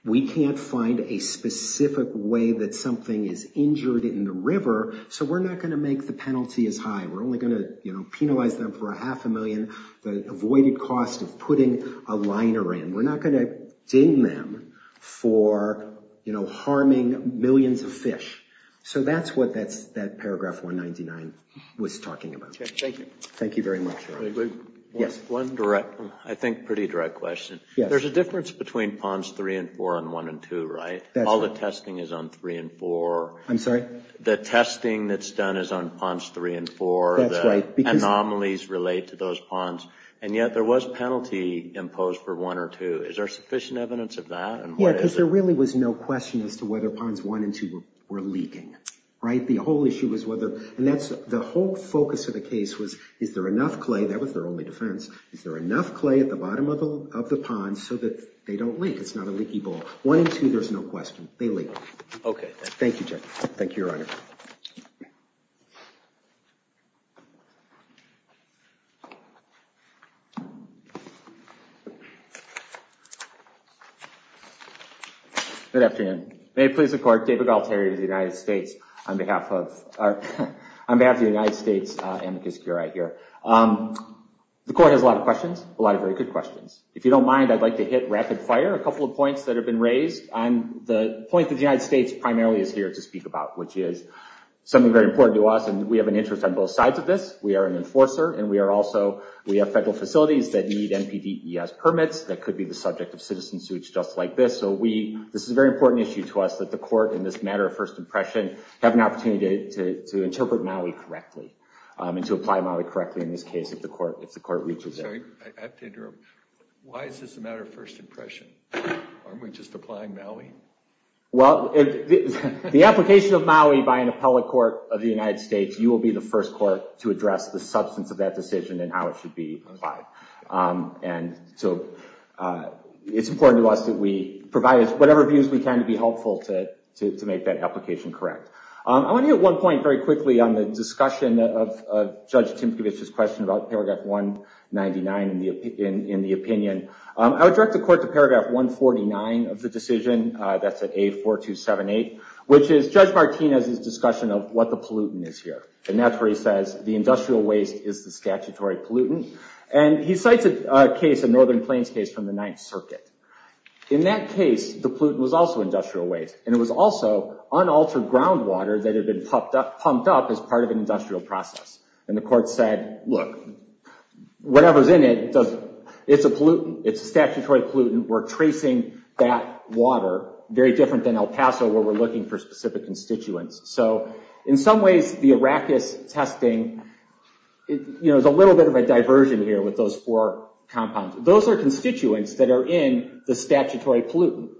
we can't find a specific way that something is injured in the river, so we're not going to make the penalty as high. We're only going to penalize them for a half a million, the avoided cost of putting a liner in. We're not going to ding them for harming millions of fish. So that's what that paragraph 199 was talking about. Thank you. Thank you very much. One direct, I think pretty direct question. There's a difference between Ponds 3 and 4 and 1 and 2, right? All the testing is on 3 and 4. I'm sorry? The testing that's done is on Ponds 3 and 4. That's right. The anomalies relate to those ponds. And yet there was penalty imposed for 1 or 2. Is there sufficient evidence of that? Yeah, because there really was no question as to whether Ponds 1 and 2 were leaking. Right? The whole issue was whether, and that's the whole focus of the case was, is there enough clay, that was their only defense, is there enough clay at the bottom of the pond so that they don't leak? It's not a leaky bowl. 1 and 2, there's no question. They leak. Okay. Thank you, Jeff. Thank you, Your Honor. Good afternoon. May it please the Court, David Galtieri of the United States, on behalf of the United States amicus curiae here. The Court has a lot of questions, a lot of very good questions. If you don't mind, I'd like to hit rapid fire a couple of points that have been raised on the point that the United States primarily is here to speak about, which is something very important to us, and we have an interest on both sides of this. We are an enforcer, and we are also, we have federal facilities that need NPDES permits that could be the subject of citizen suits just like this. So this is a very important issue to us that the Court, in this matter of first impression, have an opportunity to interpret Maui correctly and to apply Maui correctly in this case if the Court reaches it. I'm sorry. I have to interrupt. Why is this a matter of first impression? Aren't we just applying Maui? Well, the application of Maui by an appellate court of the United States, you will be the first court to address the substance of that decision and how it should be applied. And so it's important to us that we provide whatever views we can to be helpful to make that application correct. I want to hit one point very quickly on the discussion of Judge Timkovich's question about Paragraph 199 in the opinion. I would direct the Court to Paragraph 149 of the decision, that's at A4278, which is Judge Martinez's discussion of what the pollutant is here. And that's where he says the industrial waste is the statutory pollutant. And he cites a case, a Northern Plains case from the Ninth Circuit. In that case, the pollutant was also industrial waste. And it was also unaltered groundwater that had been pumped up as part of an industrial process. And the Court said, look, whatever's in it, it's a pollutant. It's a statutory pollutant. We're tracing that water very different than El Paso where we're looking for specific constituents. So in some ways, the Arrakis testing, you know, there's a little bit of a diversion here with those four compounds. Those are constituents that are in the statutory pollutant.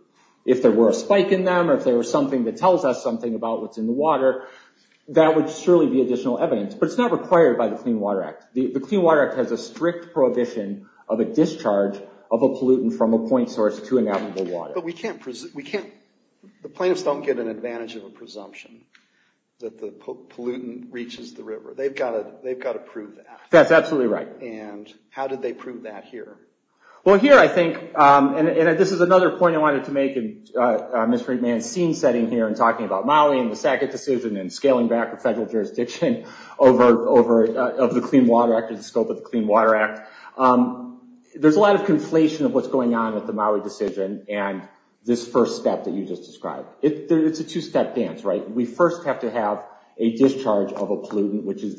If there were a spike in them or if there was something that tells us something about what's in the water, that would surely be additional evidence. But it's not required by the Clean Water Act. The Clean Water Act has a strict prohibition of a discharge of a pollutant from a point source to inalienable water. The plaintiffs don't get an advantage of a presumption that the pollutant reaches the river. They've got to prove that. That's absolutely right. And how did they prove that here? Well, here I think, and this is another point I wanted to make, and Ms. Frink may have seen setting here and talking about Maui and the Sackett decision and scaling back the federal jurisdiction of the Clean Water Act and the scope of the Clean Water Act. There's a lot of conflation of what's going on with the Maui decision and this first step that you just described. It's a two-step dance, right? We first have to have a discharge of a pollutant, which is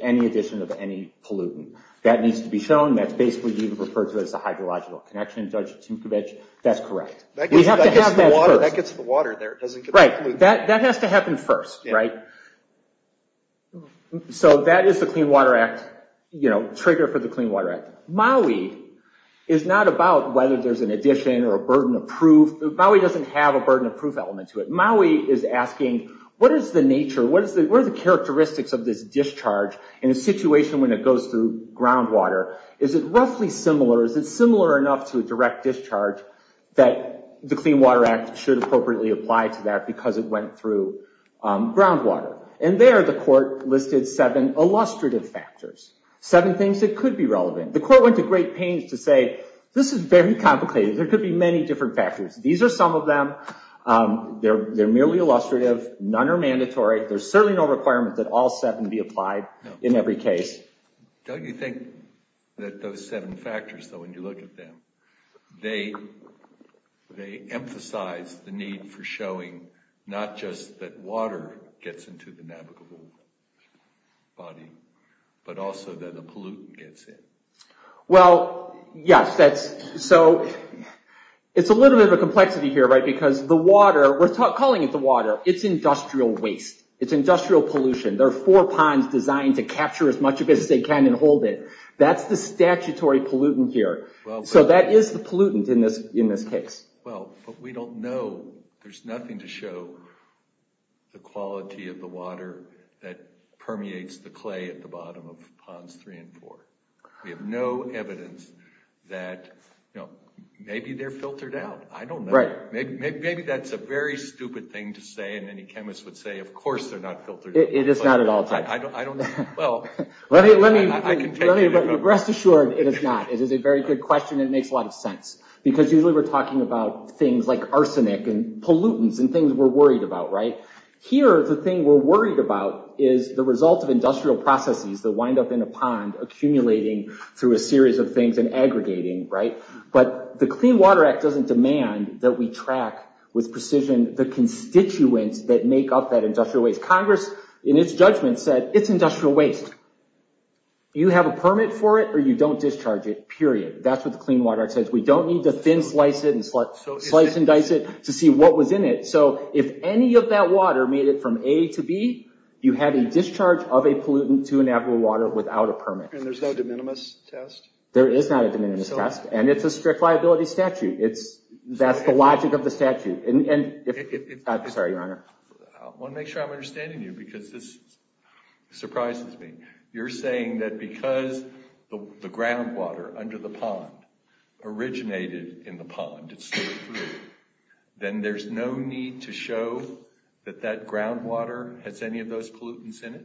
any addition of any pollutant. That needs to be shown. That's basically even referred to as a hydrological connection, Judge Tinkovich. That's correct. We have to have that first. That gets the water there. Right. That has to happen first, right? So that is the Clean Water Act, you know, trigger for the Clean Water Act. Maui is not about whether there's an addition or a burden of proof. Maui doesn't have a burden of proof element to it. Maui is asking what is the nature, what are the characteristics of this discharge in a situation when it goes through groundwater? Is it roughly similar? Is it similar enough to a direct discharge that the Clean Water Act should appropriately apply to that because it went through groundwater? And there the court listed seven illustrative factors, seven things that could be relevant. The court went to great pains to say this is very complicated. There could be many different factors. These are some of them. They're merely illustrative. None are mandatory. There's certainly no requirement that all seven be applied in every case. Don't you think that those seven factors, though, when you look at them, they emphasize the need for showing not just that but also that the pollutant gets in? Well, yes. So it's a little bit of a complexity here because the water, we're calling it the water, it's industrial waste. It's industrial pollution. There are four ponds designed to capture as much of it as they can and hold it. That's the statutory pollutant here. So that is the pollutant in this case. Well, but we don't know. There's nothing to show the quality of the water that permeates the clay at the bottom of ponds three and four. We have no evidence that, you know, maybe they're filtered out. I don't know. Maybe that's a very stupid thing to say and any chemist would say, of course they're not filtered out. It is not at all. I don't know. Well, I can take it. Rest assured it is not. It is a very good question and it makes a lot of sense because usually we're talking about things like arsenic and pollutants and things we're worried about, right? Here, the thing we're worried about is the result of industrial processes that wind up in a pond accumulating through a series of things and aggregating, right? But the Clean Water Act doesn't demand that we track with precision the constituents that make up that industrial waste. Congress, in its judgment, said it's industrial waste. You have a permit for it or you don't discharge it, period. That's what the Clean Water Act says. We don't need to thin slice it and slice and dice it to see what was in it. So if any of that water made it from A to B, you have a discharge of a pollutant to an available water without a permit. And there's no de minimis test? There is not a de minimis test and it's a strict liability statute. That's the logic of the statute. I'm sorry, Your Honor. I want to make sure I'm understanding you because this surprises me. You're saying that because the groundwater under the pond originated in the pond, then there's no need to show that that groundwater has any of those pollutants in it?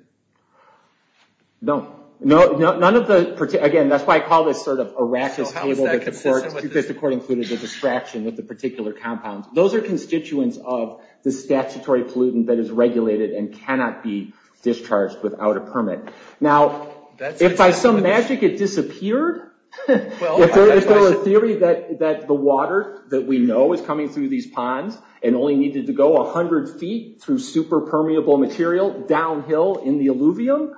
No. Again, that's why I call this sort of a rachis table because the court included the distraction with the particular compound. Those are constituents of the statutory pollutant that is regulated and cannot be discharged without a permit. Now, if by some magic it disappeared, if there was a theory that the water that we know is coming through these ponds and only needed to go 100 feet through super permeable material downhill in the alluvium,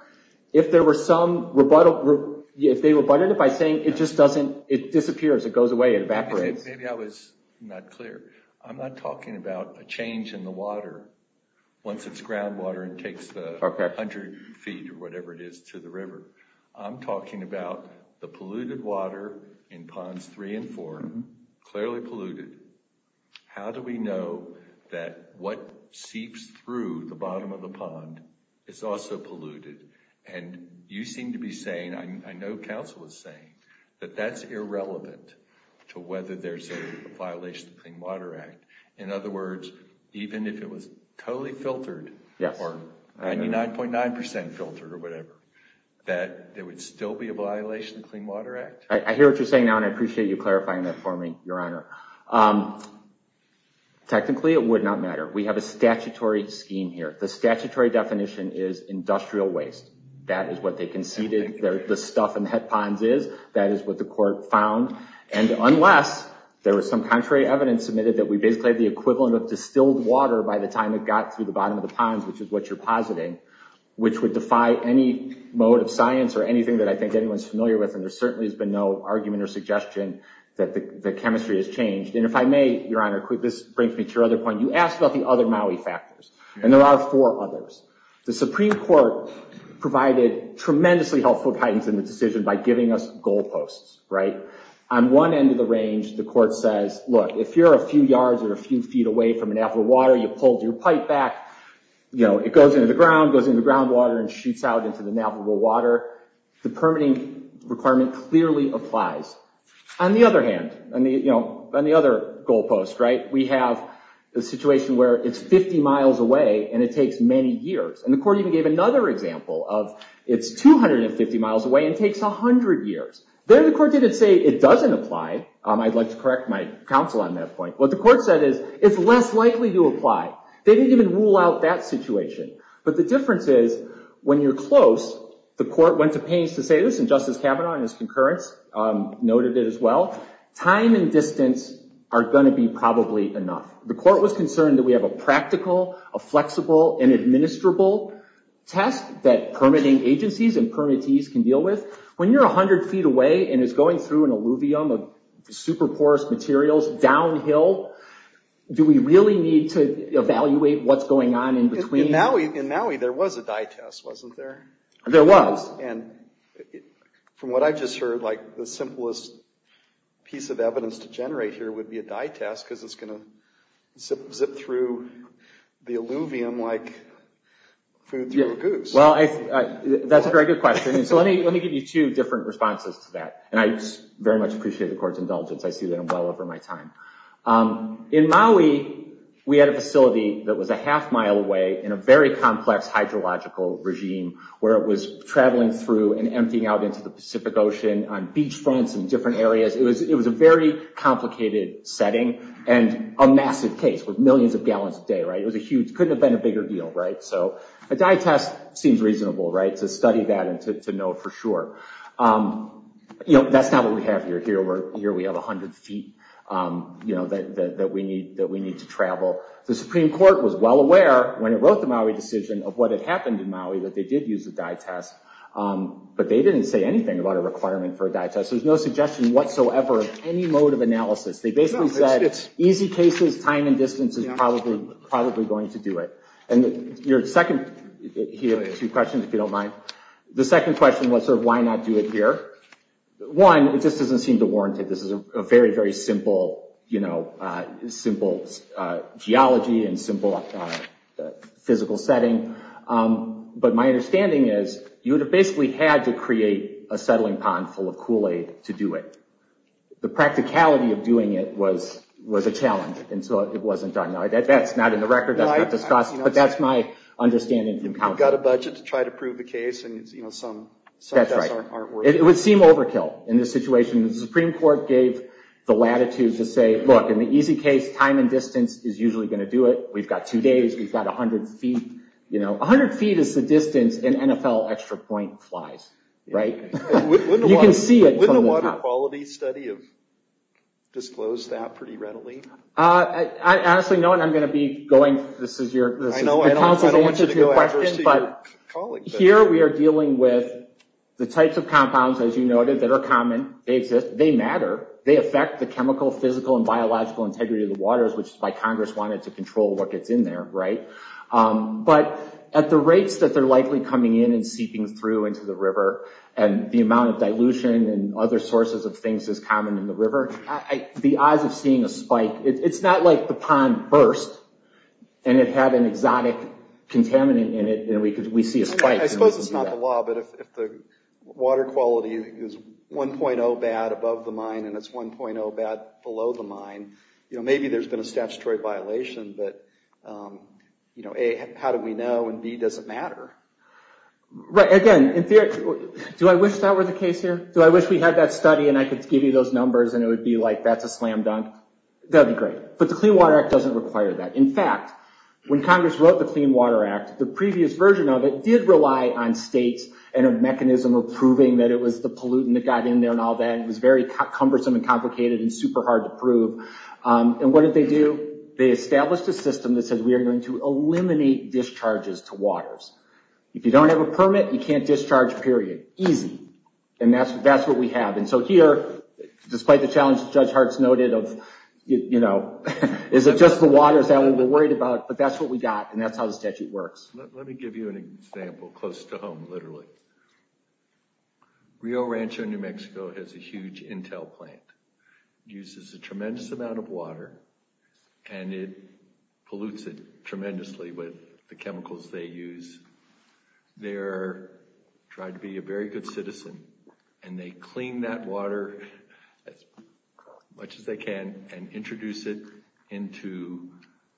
if there were some rebuttal, if they rebutted it by saying it just doesn't, it disappears, it goes away, it evaporates. Maybe I was not clear. I'm not talking about a change in the water once it's groundwater and takes the 100 feet or whatever it is to the river. I'm talking about the polluted water in Ponds 3 and 4, clearly polluted. How do we know that what seeps through the bottom of the pond is also polluted? And you seem to be saying, I know counsel is saying, that that's irrelevant to whether there's a violation of the Clean Water Act. In other words, even if it was totally filtered or 99.9% filtered or whatever, that there would still be a violation of the Clean Water Act? I hear what you're saying now, and I appreciate you clarifying that for me, Your Honor. Technically, it would not matter. We have a statutory scheme here. The statutory definition is industrial waste. That is what they conceded the stuff in the head ponds is. That is what the court found. And unless there was some contrary evidence submitted that we basically had the equivalent of distilled water by the time it got to the bottom of the ponds, which is what you're positing, which would defy any mode of science or anything that I think anyone's familiar with, and there certainly has been no argument or suggestion that the chemistry has changed. And if I may, Your Honor, this brings me to your other point. You asked about the other Maui factors, and there are four others. The Supreme Court provided tremendously helpful guidance in the decision by giving us goal posts. On one end of the range, the court says, look, if you're a few yards or a few feet away from an avalible water, you pulled your pipe back, it goes into the ground, goes into the groundwater, and shoots out into the navigable water. The permitting requirement clearly applies. On the other hand, on the other goal post, we have a situation where it's 50 miles away and it takes many years. And the court even gave another example of it's 250 miles away and takes 100 years. There the court didn't say it doesn't apply. I'd like to correct my counsel on that point. What the court said is it's less likely to apply. They didn't even rule out that situation. But the difference is when you're close, the court went to pains to say this, and Justice Kavanaugh in his concurrence noted it as well, time and distance are going to be probably enough. The court was concerned that we have a practical, a flexible, and administrable test that permitting agencies and permittees can deal with. When you're 100 feet away and it's going through an alluvium of super porous materials downhill, do we really need to evaluate what's going on in between? In Maui there was a dye test, wasn't there? There was. And from what I've just heard, like the simplest piece of evidence to generate here would be a dye test because it's going to zip through the alluvium like food through a goose. Well, that's a very good question. So let me give you two different responses to that. And I very much appreciate the court's indulgence. I see that well over my time. In Maui we had a facility that was a half mile away in a very complex hydrological regime where it was traveling through and emptying out into the Pacific Ocean on beach fronts and different areas. It was a very complicated setting and a massive case with millions of gallons a day. It was a huge, couldn't have been a bigger deal, right? So a dye test seems reasonable, right, to study that and to know for sure. That's not what we have here. Here we have 100 feet that we need to travel. The Supreme Court was well aware when it wrote the Maui decision of what had happened in Maui that they did use a dye test. But they didn't say anything about a requirement for a dye test. There was no suggestion whatsoever of any mode of analysis. They basically said easy cases, time and distance is probably going to do it. And your second, here are two questions if you don't mind. The second question was sort of why not do it here. One, it just doesn't seem to warrant it. This is a very, very simple geology and simple physical setting. But my understanding is you would have basically had to create a settling pond full of Kool-Aid to do it. The practicality of doing it was a challenge and so it wasn't done. That's not in the record, that's not discussed, but that's my understanding. You've got a budget to try to prove the case and some tests aren't working. It would seem overkill in this situation. The Supreme Court gave the latitude to say, look, in the easy case, time and distance is usually going to do it. We've got two days, we've got 100 feet. 100 feet is the distance an NFL extra point flies, right? You can see it from the top. Wouldn't a water quality study have disclosed that pretty readily? Honestly, no, and I'm going to be going... I know, I don't want you to go after your colleague. Here we are dealing with the types of compounds, as you noted, that are common. They exist, they matter. They affect the chemical, physical, and biological integrity of the waters, which is why Congress wanted to control what gets in there, right? But at the rates that they're likely coming in and seeping through into the river, and the amount of dilution and other sources of things that's common in the river, the odds of seeing a spike... It's not like the pond burst and it had an exotic contaminant in it and we see a spike. I suppose it's not the law, but if the water quality is 1.0 bad above the mine and it's 1.0 bad below the mine, maybe there's been a statutory violation, but A, how do we know, and B, does it matter? Right, again, do I wish that were the case here? Do I wish we had that study and I could give you those numbers and it would be like, that's a slam dunk? That would be great. But the Clean Water Act doesn't require that. In fact, when Congress wrote the Clean Water Act, the previous version of it did rely on states and a mechanism of proving that it was the pollutant that got in there and all that. It was very cumbersome and complicated and super hard to prove. And what did they do? They established a system that said we are going to eliminate discharges to waters. If you don't have a permit, you can't discharge, period. Easy. And that's what we have. And so here, despite the challenge that Judge Hartz noted of, you know, is it just the waters that we're worried about? But that's what we got and that's how the statute works. Let me give you an example close to home, literally. Rio Rancho, New Mexico, has a huge Intel plant. It uses a tremendous amount of water and it pollutes it tremendously with the chemicals they use. They're trying to be a very good citizen and they clean that water as much as they can and introduce it into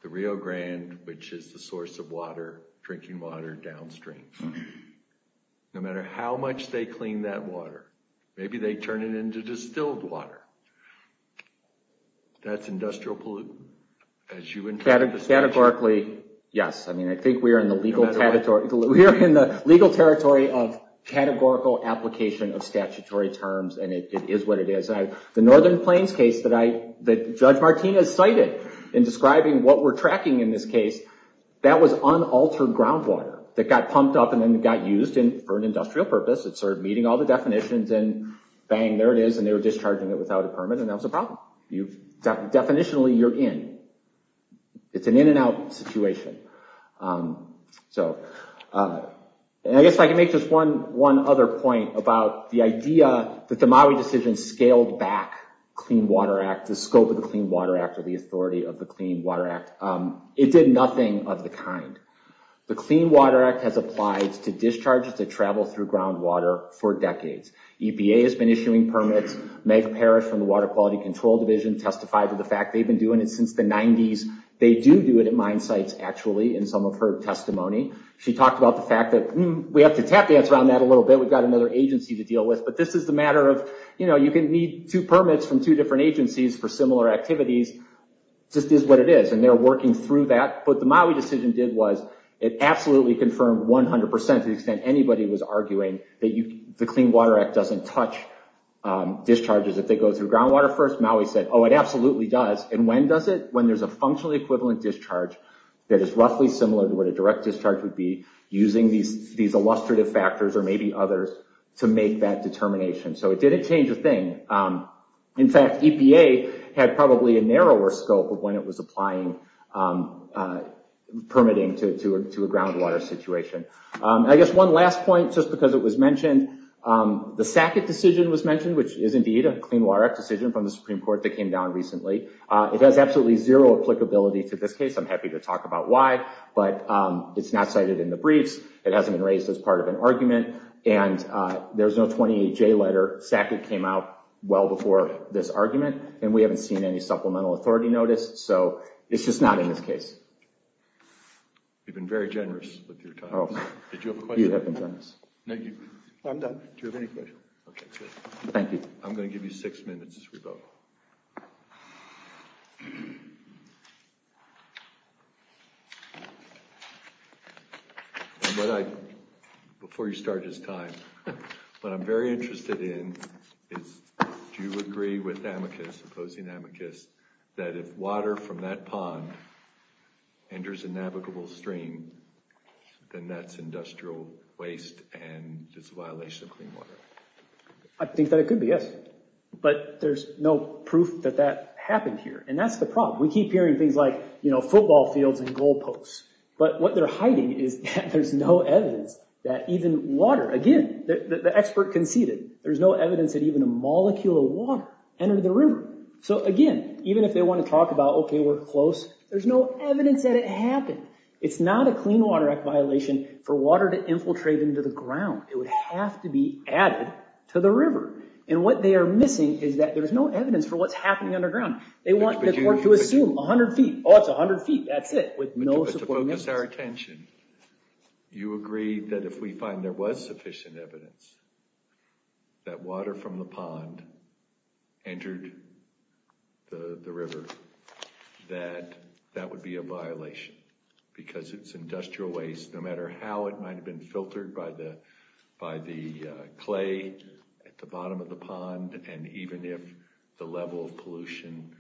the Rio Grande, which is the source of water, drinking water downstream. No matter how much they clean that water, maybe they turn it into distilled water. That's industrial pollutant, as you interpret the statute. Categorically, yes. I mean, I think we are in the legal territory of categorical application of statutory terms and it is what it is. The Northern Plains case that Judge Martinez cited in describing what we're tracking in this case, that was unaltered groundwater that got pumped up and then got used for an industrial purpose. It started meeting all the definitions and bang, there it is, and they were discharging it without a permit and that was a problem. Definitionally, you're in. It's an in and out situation. I guess I can make just one other point about the idea that the Maui decision scaled back Clean Water Act, the scope of the Clean Water Act or the authority of the Clean Water Act. It did nothing of the kind. The Clean Water Act has applied to discharges that travel through groundwater for decades. EPA has been issuing permits. Meg Parrish from the Water Quality Control Division testified to the fact they've been doing it since the 90s. They do do it at mine sites, actually, in some of her testimony. She talked about the fact that we have to tap dance around that a little bit. We've got another agency to deal with, but this is the matter of you can need two permits from two different agencies for similar activities. It just is what it is and they're working through that. What the Maui decision did was it absolutely confirmed 100% to the extent anybody was arguing that the Clean Water Act doesn't touch discharges if they go through groundwater first. Maui said, oh, it absolutely does. When does it? When there's a functionally equivalent discharge that is roughly similar to what a direct discharge would be, using these illustrative factors or maybe others to make that determination. It didn't change a thing. In fact, EPA had probably a narrower scope of when it was applying permitting to a groundwater situation. The Sackett decision was mentioned, which is indeed a Clean Water Act decision from the Supreme Court that came down recently. It has absolutely zero applicability to this case. I'm happy to talk about why, but it's not cited in the briefs. It hasn't been raised as part of an argument and there's no 28-J letter. Sackett came out well before this argument and we haven't seen any supplemental authority notice. It's just not in this case. You've been very generous with your time. Did you have a question? You have been generous. I'm done. Do you have any questions? Thank you. I'm going to give you six minutes as we vote. Before you start this time, what I'm very interested in is do you agree with Amicus, opposing Amicus, that if water from that pond enters a navigable stream, then that's industrial waste and it's a violation of clean water? I think that it could be, yes. But there's no proof that that happened here. And that's the problem. We keep hearing things like football fields and goal posts. But what they're hiding is that there's no evidence that even water, again, the expert conceded, there's no evidence that even a molecule of water entered the river. So again, even if they want to talk about, okay, we're close, there's no evidence that it happened. It's not a Clean Water Act violation for water to infiltrate into the ground. It would have to be added to the river. And what they are missing is that there's no evidence for what's happening underground. They want the court to assume 100 feet. Oh, it's 100 feet. That's it. To focus our attention, you agree that if we find there was sufficient evidence that water from the pond entered the river, that that would be a violation. Because it's industrial waste, no matter how it might have been filtered by the clay at the bottom of the pond, and even if the level of pollution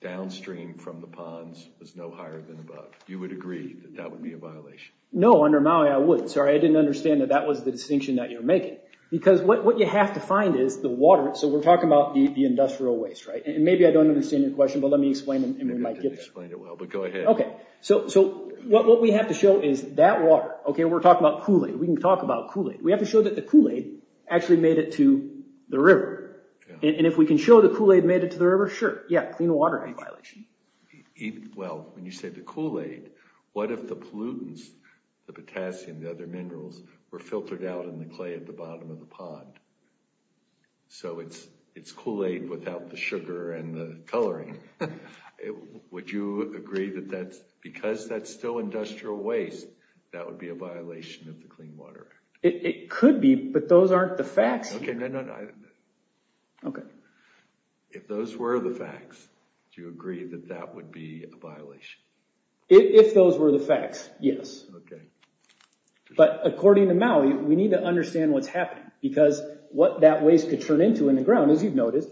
downstream from the ponds was no higher than above. You would agree that that would be a violation? No, under Maui, I would. Sorry, I didn't understand that that was the distinction that you're making. Because what you have to find is the water. So we're talking about the industrial waste, right? And maybe I don't understand your question, but let me explain and we might get there. You didn't explain it well, but go ahead. Okay, so what we have to show is that water. Okay, we're talking about Kool-Aid. We can talk about Kool-Aid. We have to show that the Kool-Aid actually made it to the river. And if we can show the Kool-Aid made it to the river, sure, yeah, Clean Water Act violation. Well, when you say the Kool-Aid, what if the pollutants, the potassium, the other minerals, were filtered out in the clay at the bottom of the pond? So it's Kool-Aid without the sugar and the coloring. Would you agree that because that's still industrial waste, that would be a violation of the Clean Water Act? It could be, but those aren't the facts. Okay, no, no, no. Okay. If those were the facts, do you agree that that would be a violation? If those were the facts, yes. Okay. But according to Maui, we need to understand what's happening because what that waste could turn into in the ground, as you've noticed,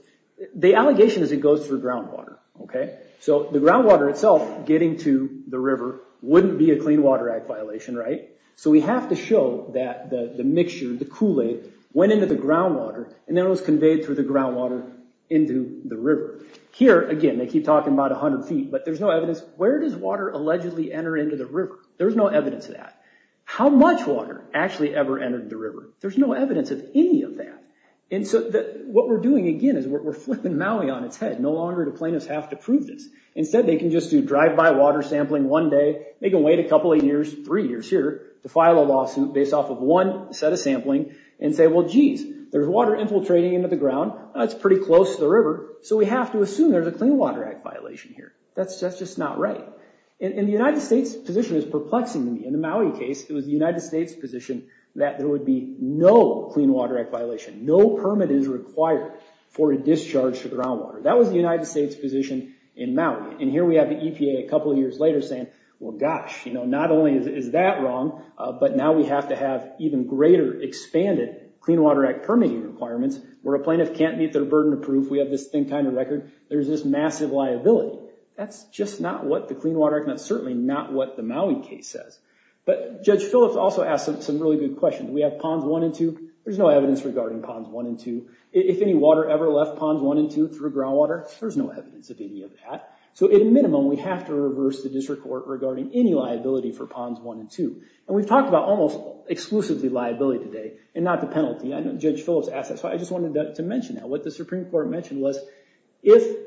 the allegation is it goes through groundwater. Okay? So the groundwater itself getting to the river wouldn't be a Clean Water Act violation, right? So we have to show that the mixture, the Kool-Aid, went into the groundwater, and then it was conveyed through the groundwater into the river. Here, again, they keep talking about 100 feet, but there's no evidence. Where does water allegedly enter into the river? There's no evidence of that. How much water actually ever entered the river? There's no evidence of any of that. And so what we're doing, again, is we're flipping Maui on its head. No longer do plaintiffs have to prove this. Instead, they can just do drive-by water sampling one day. They can wait a couple of years, three years here, to file a lawsuit based off of one set of sampling and say, well, geez, there's water infiltrating into the ground. That's pretty close to the river, so we have to assume there's a Clean Water Act violation here. That's just not right. And the United States position is perplexing to me. In the Maui case, it was the United States position that there would be no Clean Water Act violation. No permit is required for a discharge to groundwater. That was the United States position in Maui. And here we have the EPA a couple of years later saying, well, gosh, not only is that wrong, but now we have to have even greater expanded Clean Water Act permitting requirements where a plaintiff can't meet their burden of proof. We have this thin kind of record. There's this massive liability. That's just not what the Clean Water Act, and that's certainly not what the Maui case says. But Judge Phillips also asked some really good questions. We have Ponds 1 and 2. There's no evidence regarding Ponds 1 and 2. If any water ever left Ponds 1 and 2 through groundwater, there's no evidence of any of that. So at a minimum, we have to reverse the district court regarding any liability for Ponds 1 and 2. And we've talked about almost exclusively liability today and not the penalty. I know Judge Phillips asked that, so I just wanted to mention that. What the Supreme Court mentioned was if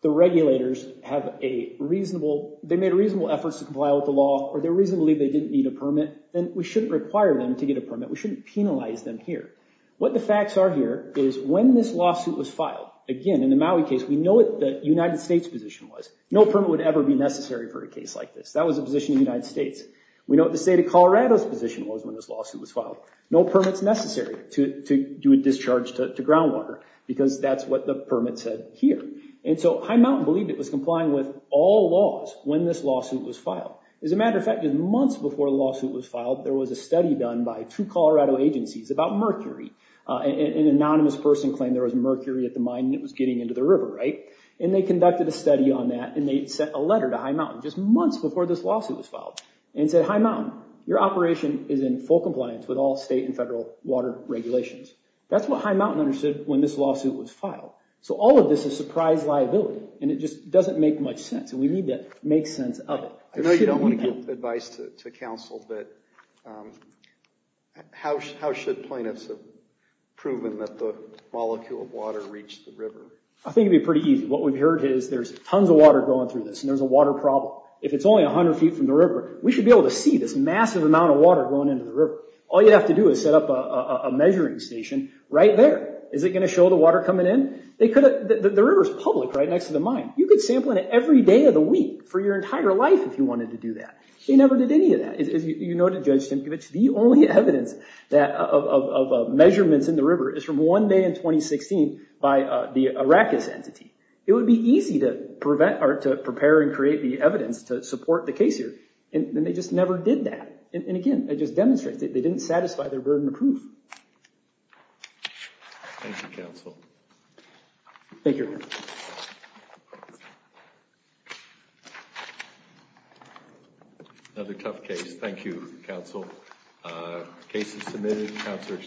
the regulators have a reasonable, they made reasonable efforts to comply with the law or they reasonably believe they didn't need a permit, then we shouldn't require them to get a permit. We shouldn't penalize them here. What the facts are here is when this lawsuit was filed, again, in the Maui case, we know what the United States position was. No permit would ever be necessary for a case like this. That was the position of the United States. We know what the state of Colorado's position was when this lawsuit was filed. No permit's necessary to do a discharge to groundwater because that's what the permit said here. And so High Mountain believed it was complying with all laws when this lawsuit was filed. As a matter of fact, just months before the lawsuit was filed, there was a study done by two Colorado agencies about mercury. An anonymous person claimed there was mercury at the mine and it was getting into the river, right? And they conducted a study on that and they sent a letter to High Mountain just months before this lawsuit was filed and said, High Mountain, your operation is in full compliance with all state and federal water regulations. That's what High Mountain understood when this lawsuit was filed. So all of this is surprise liability and it just doesn't make much sense and we need to make sense of it. I know you don't want to give advice to counsel, but how should plaintiffs have proven that the molecule of water reached the river? I think it would be pretty easy. What we've heard is there's tons of water going through this and there's a water problem. If it's only 100 feet from the river, we should be able to see this massive amount of water going into the river. All you'd have to do is set up a measuring station right there. Is it going to show the water coming in? The river's public right next to the mine. You could sample it every day of the week for your entire life if you wanted to do that. They never did any of that. As you noted, Judge Stimkevich, the only evidence of measurements in the river is from one day in 2016 by the Arrakis entity. It would be easy to prepare and create the evidence to support the case here, and they just never did that. Again, it just demonstrates they didn't satisfy their burden of proof. Thank you, counsel. Thank you. Another tough case. Thank you, counsel. Case is submitted.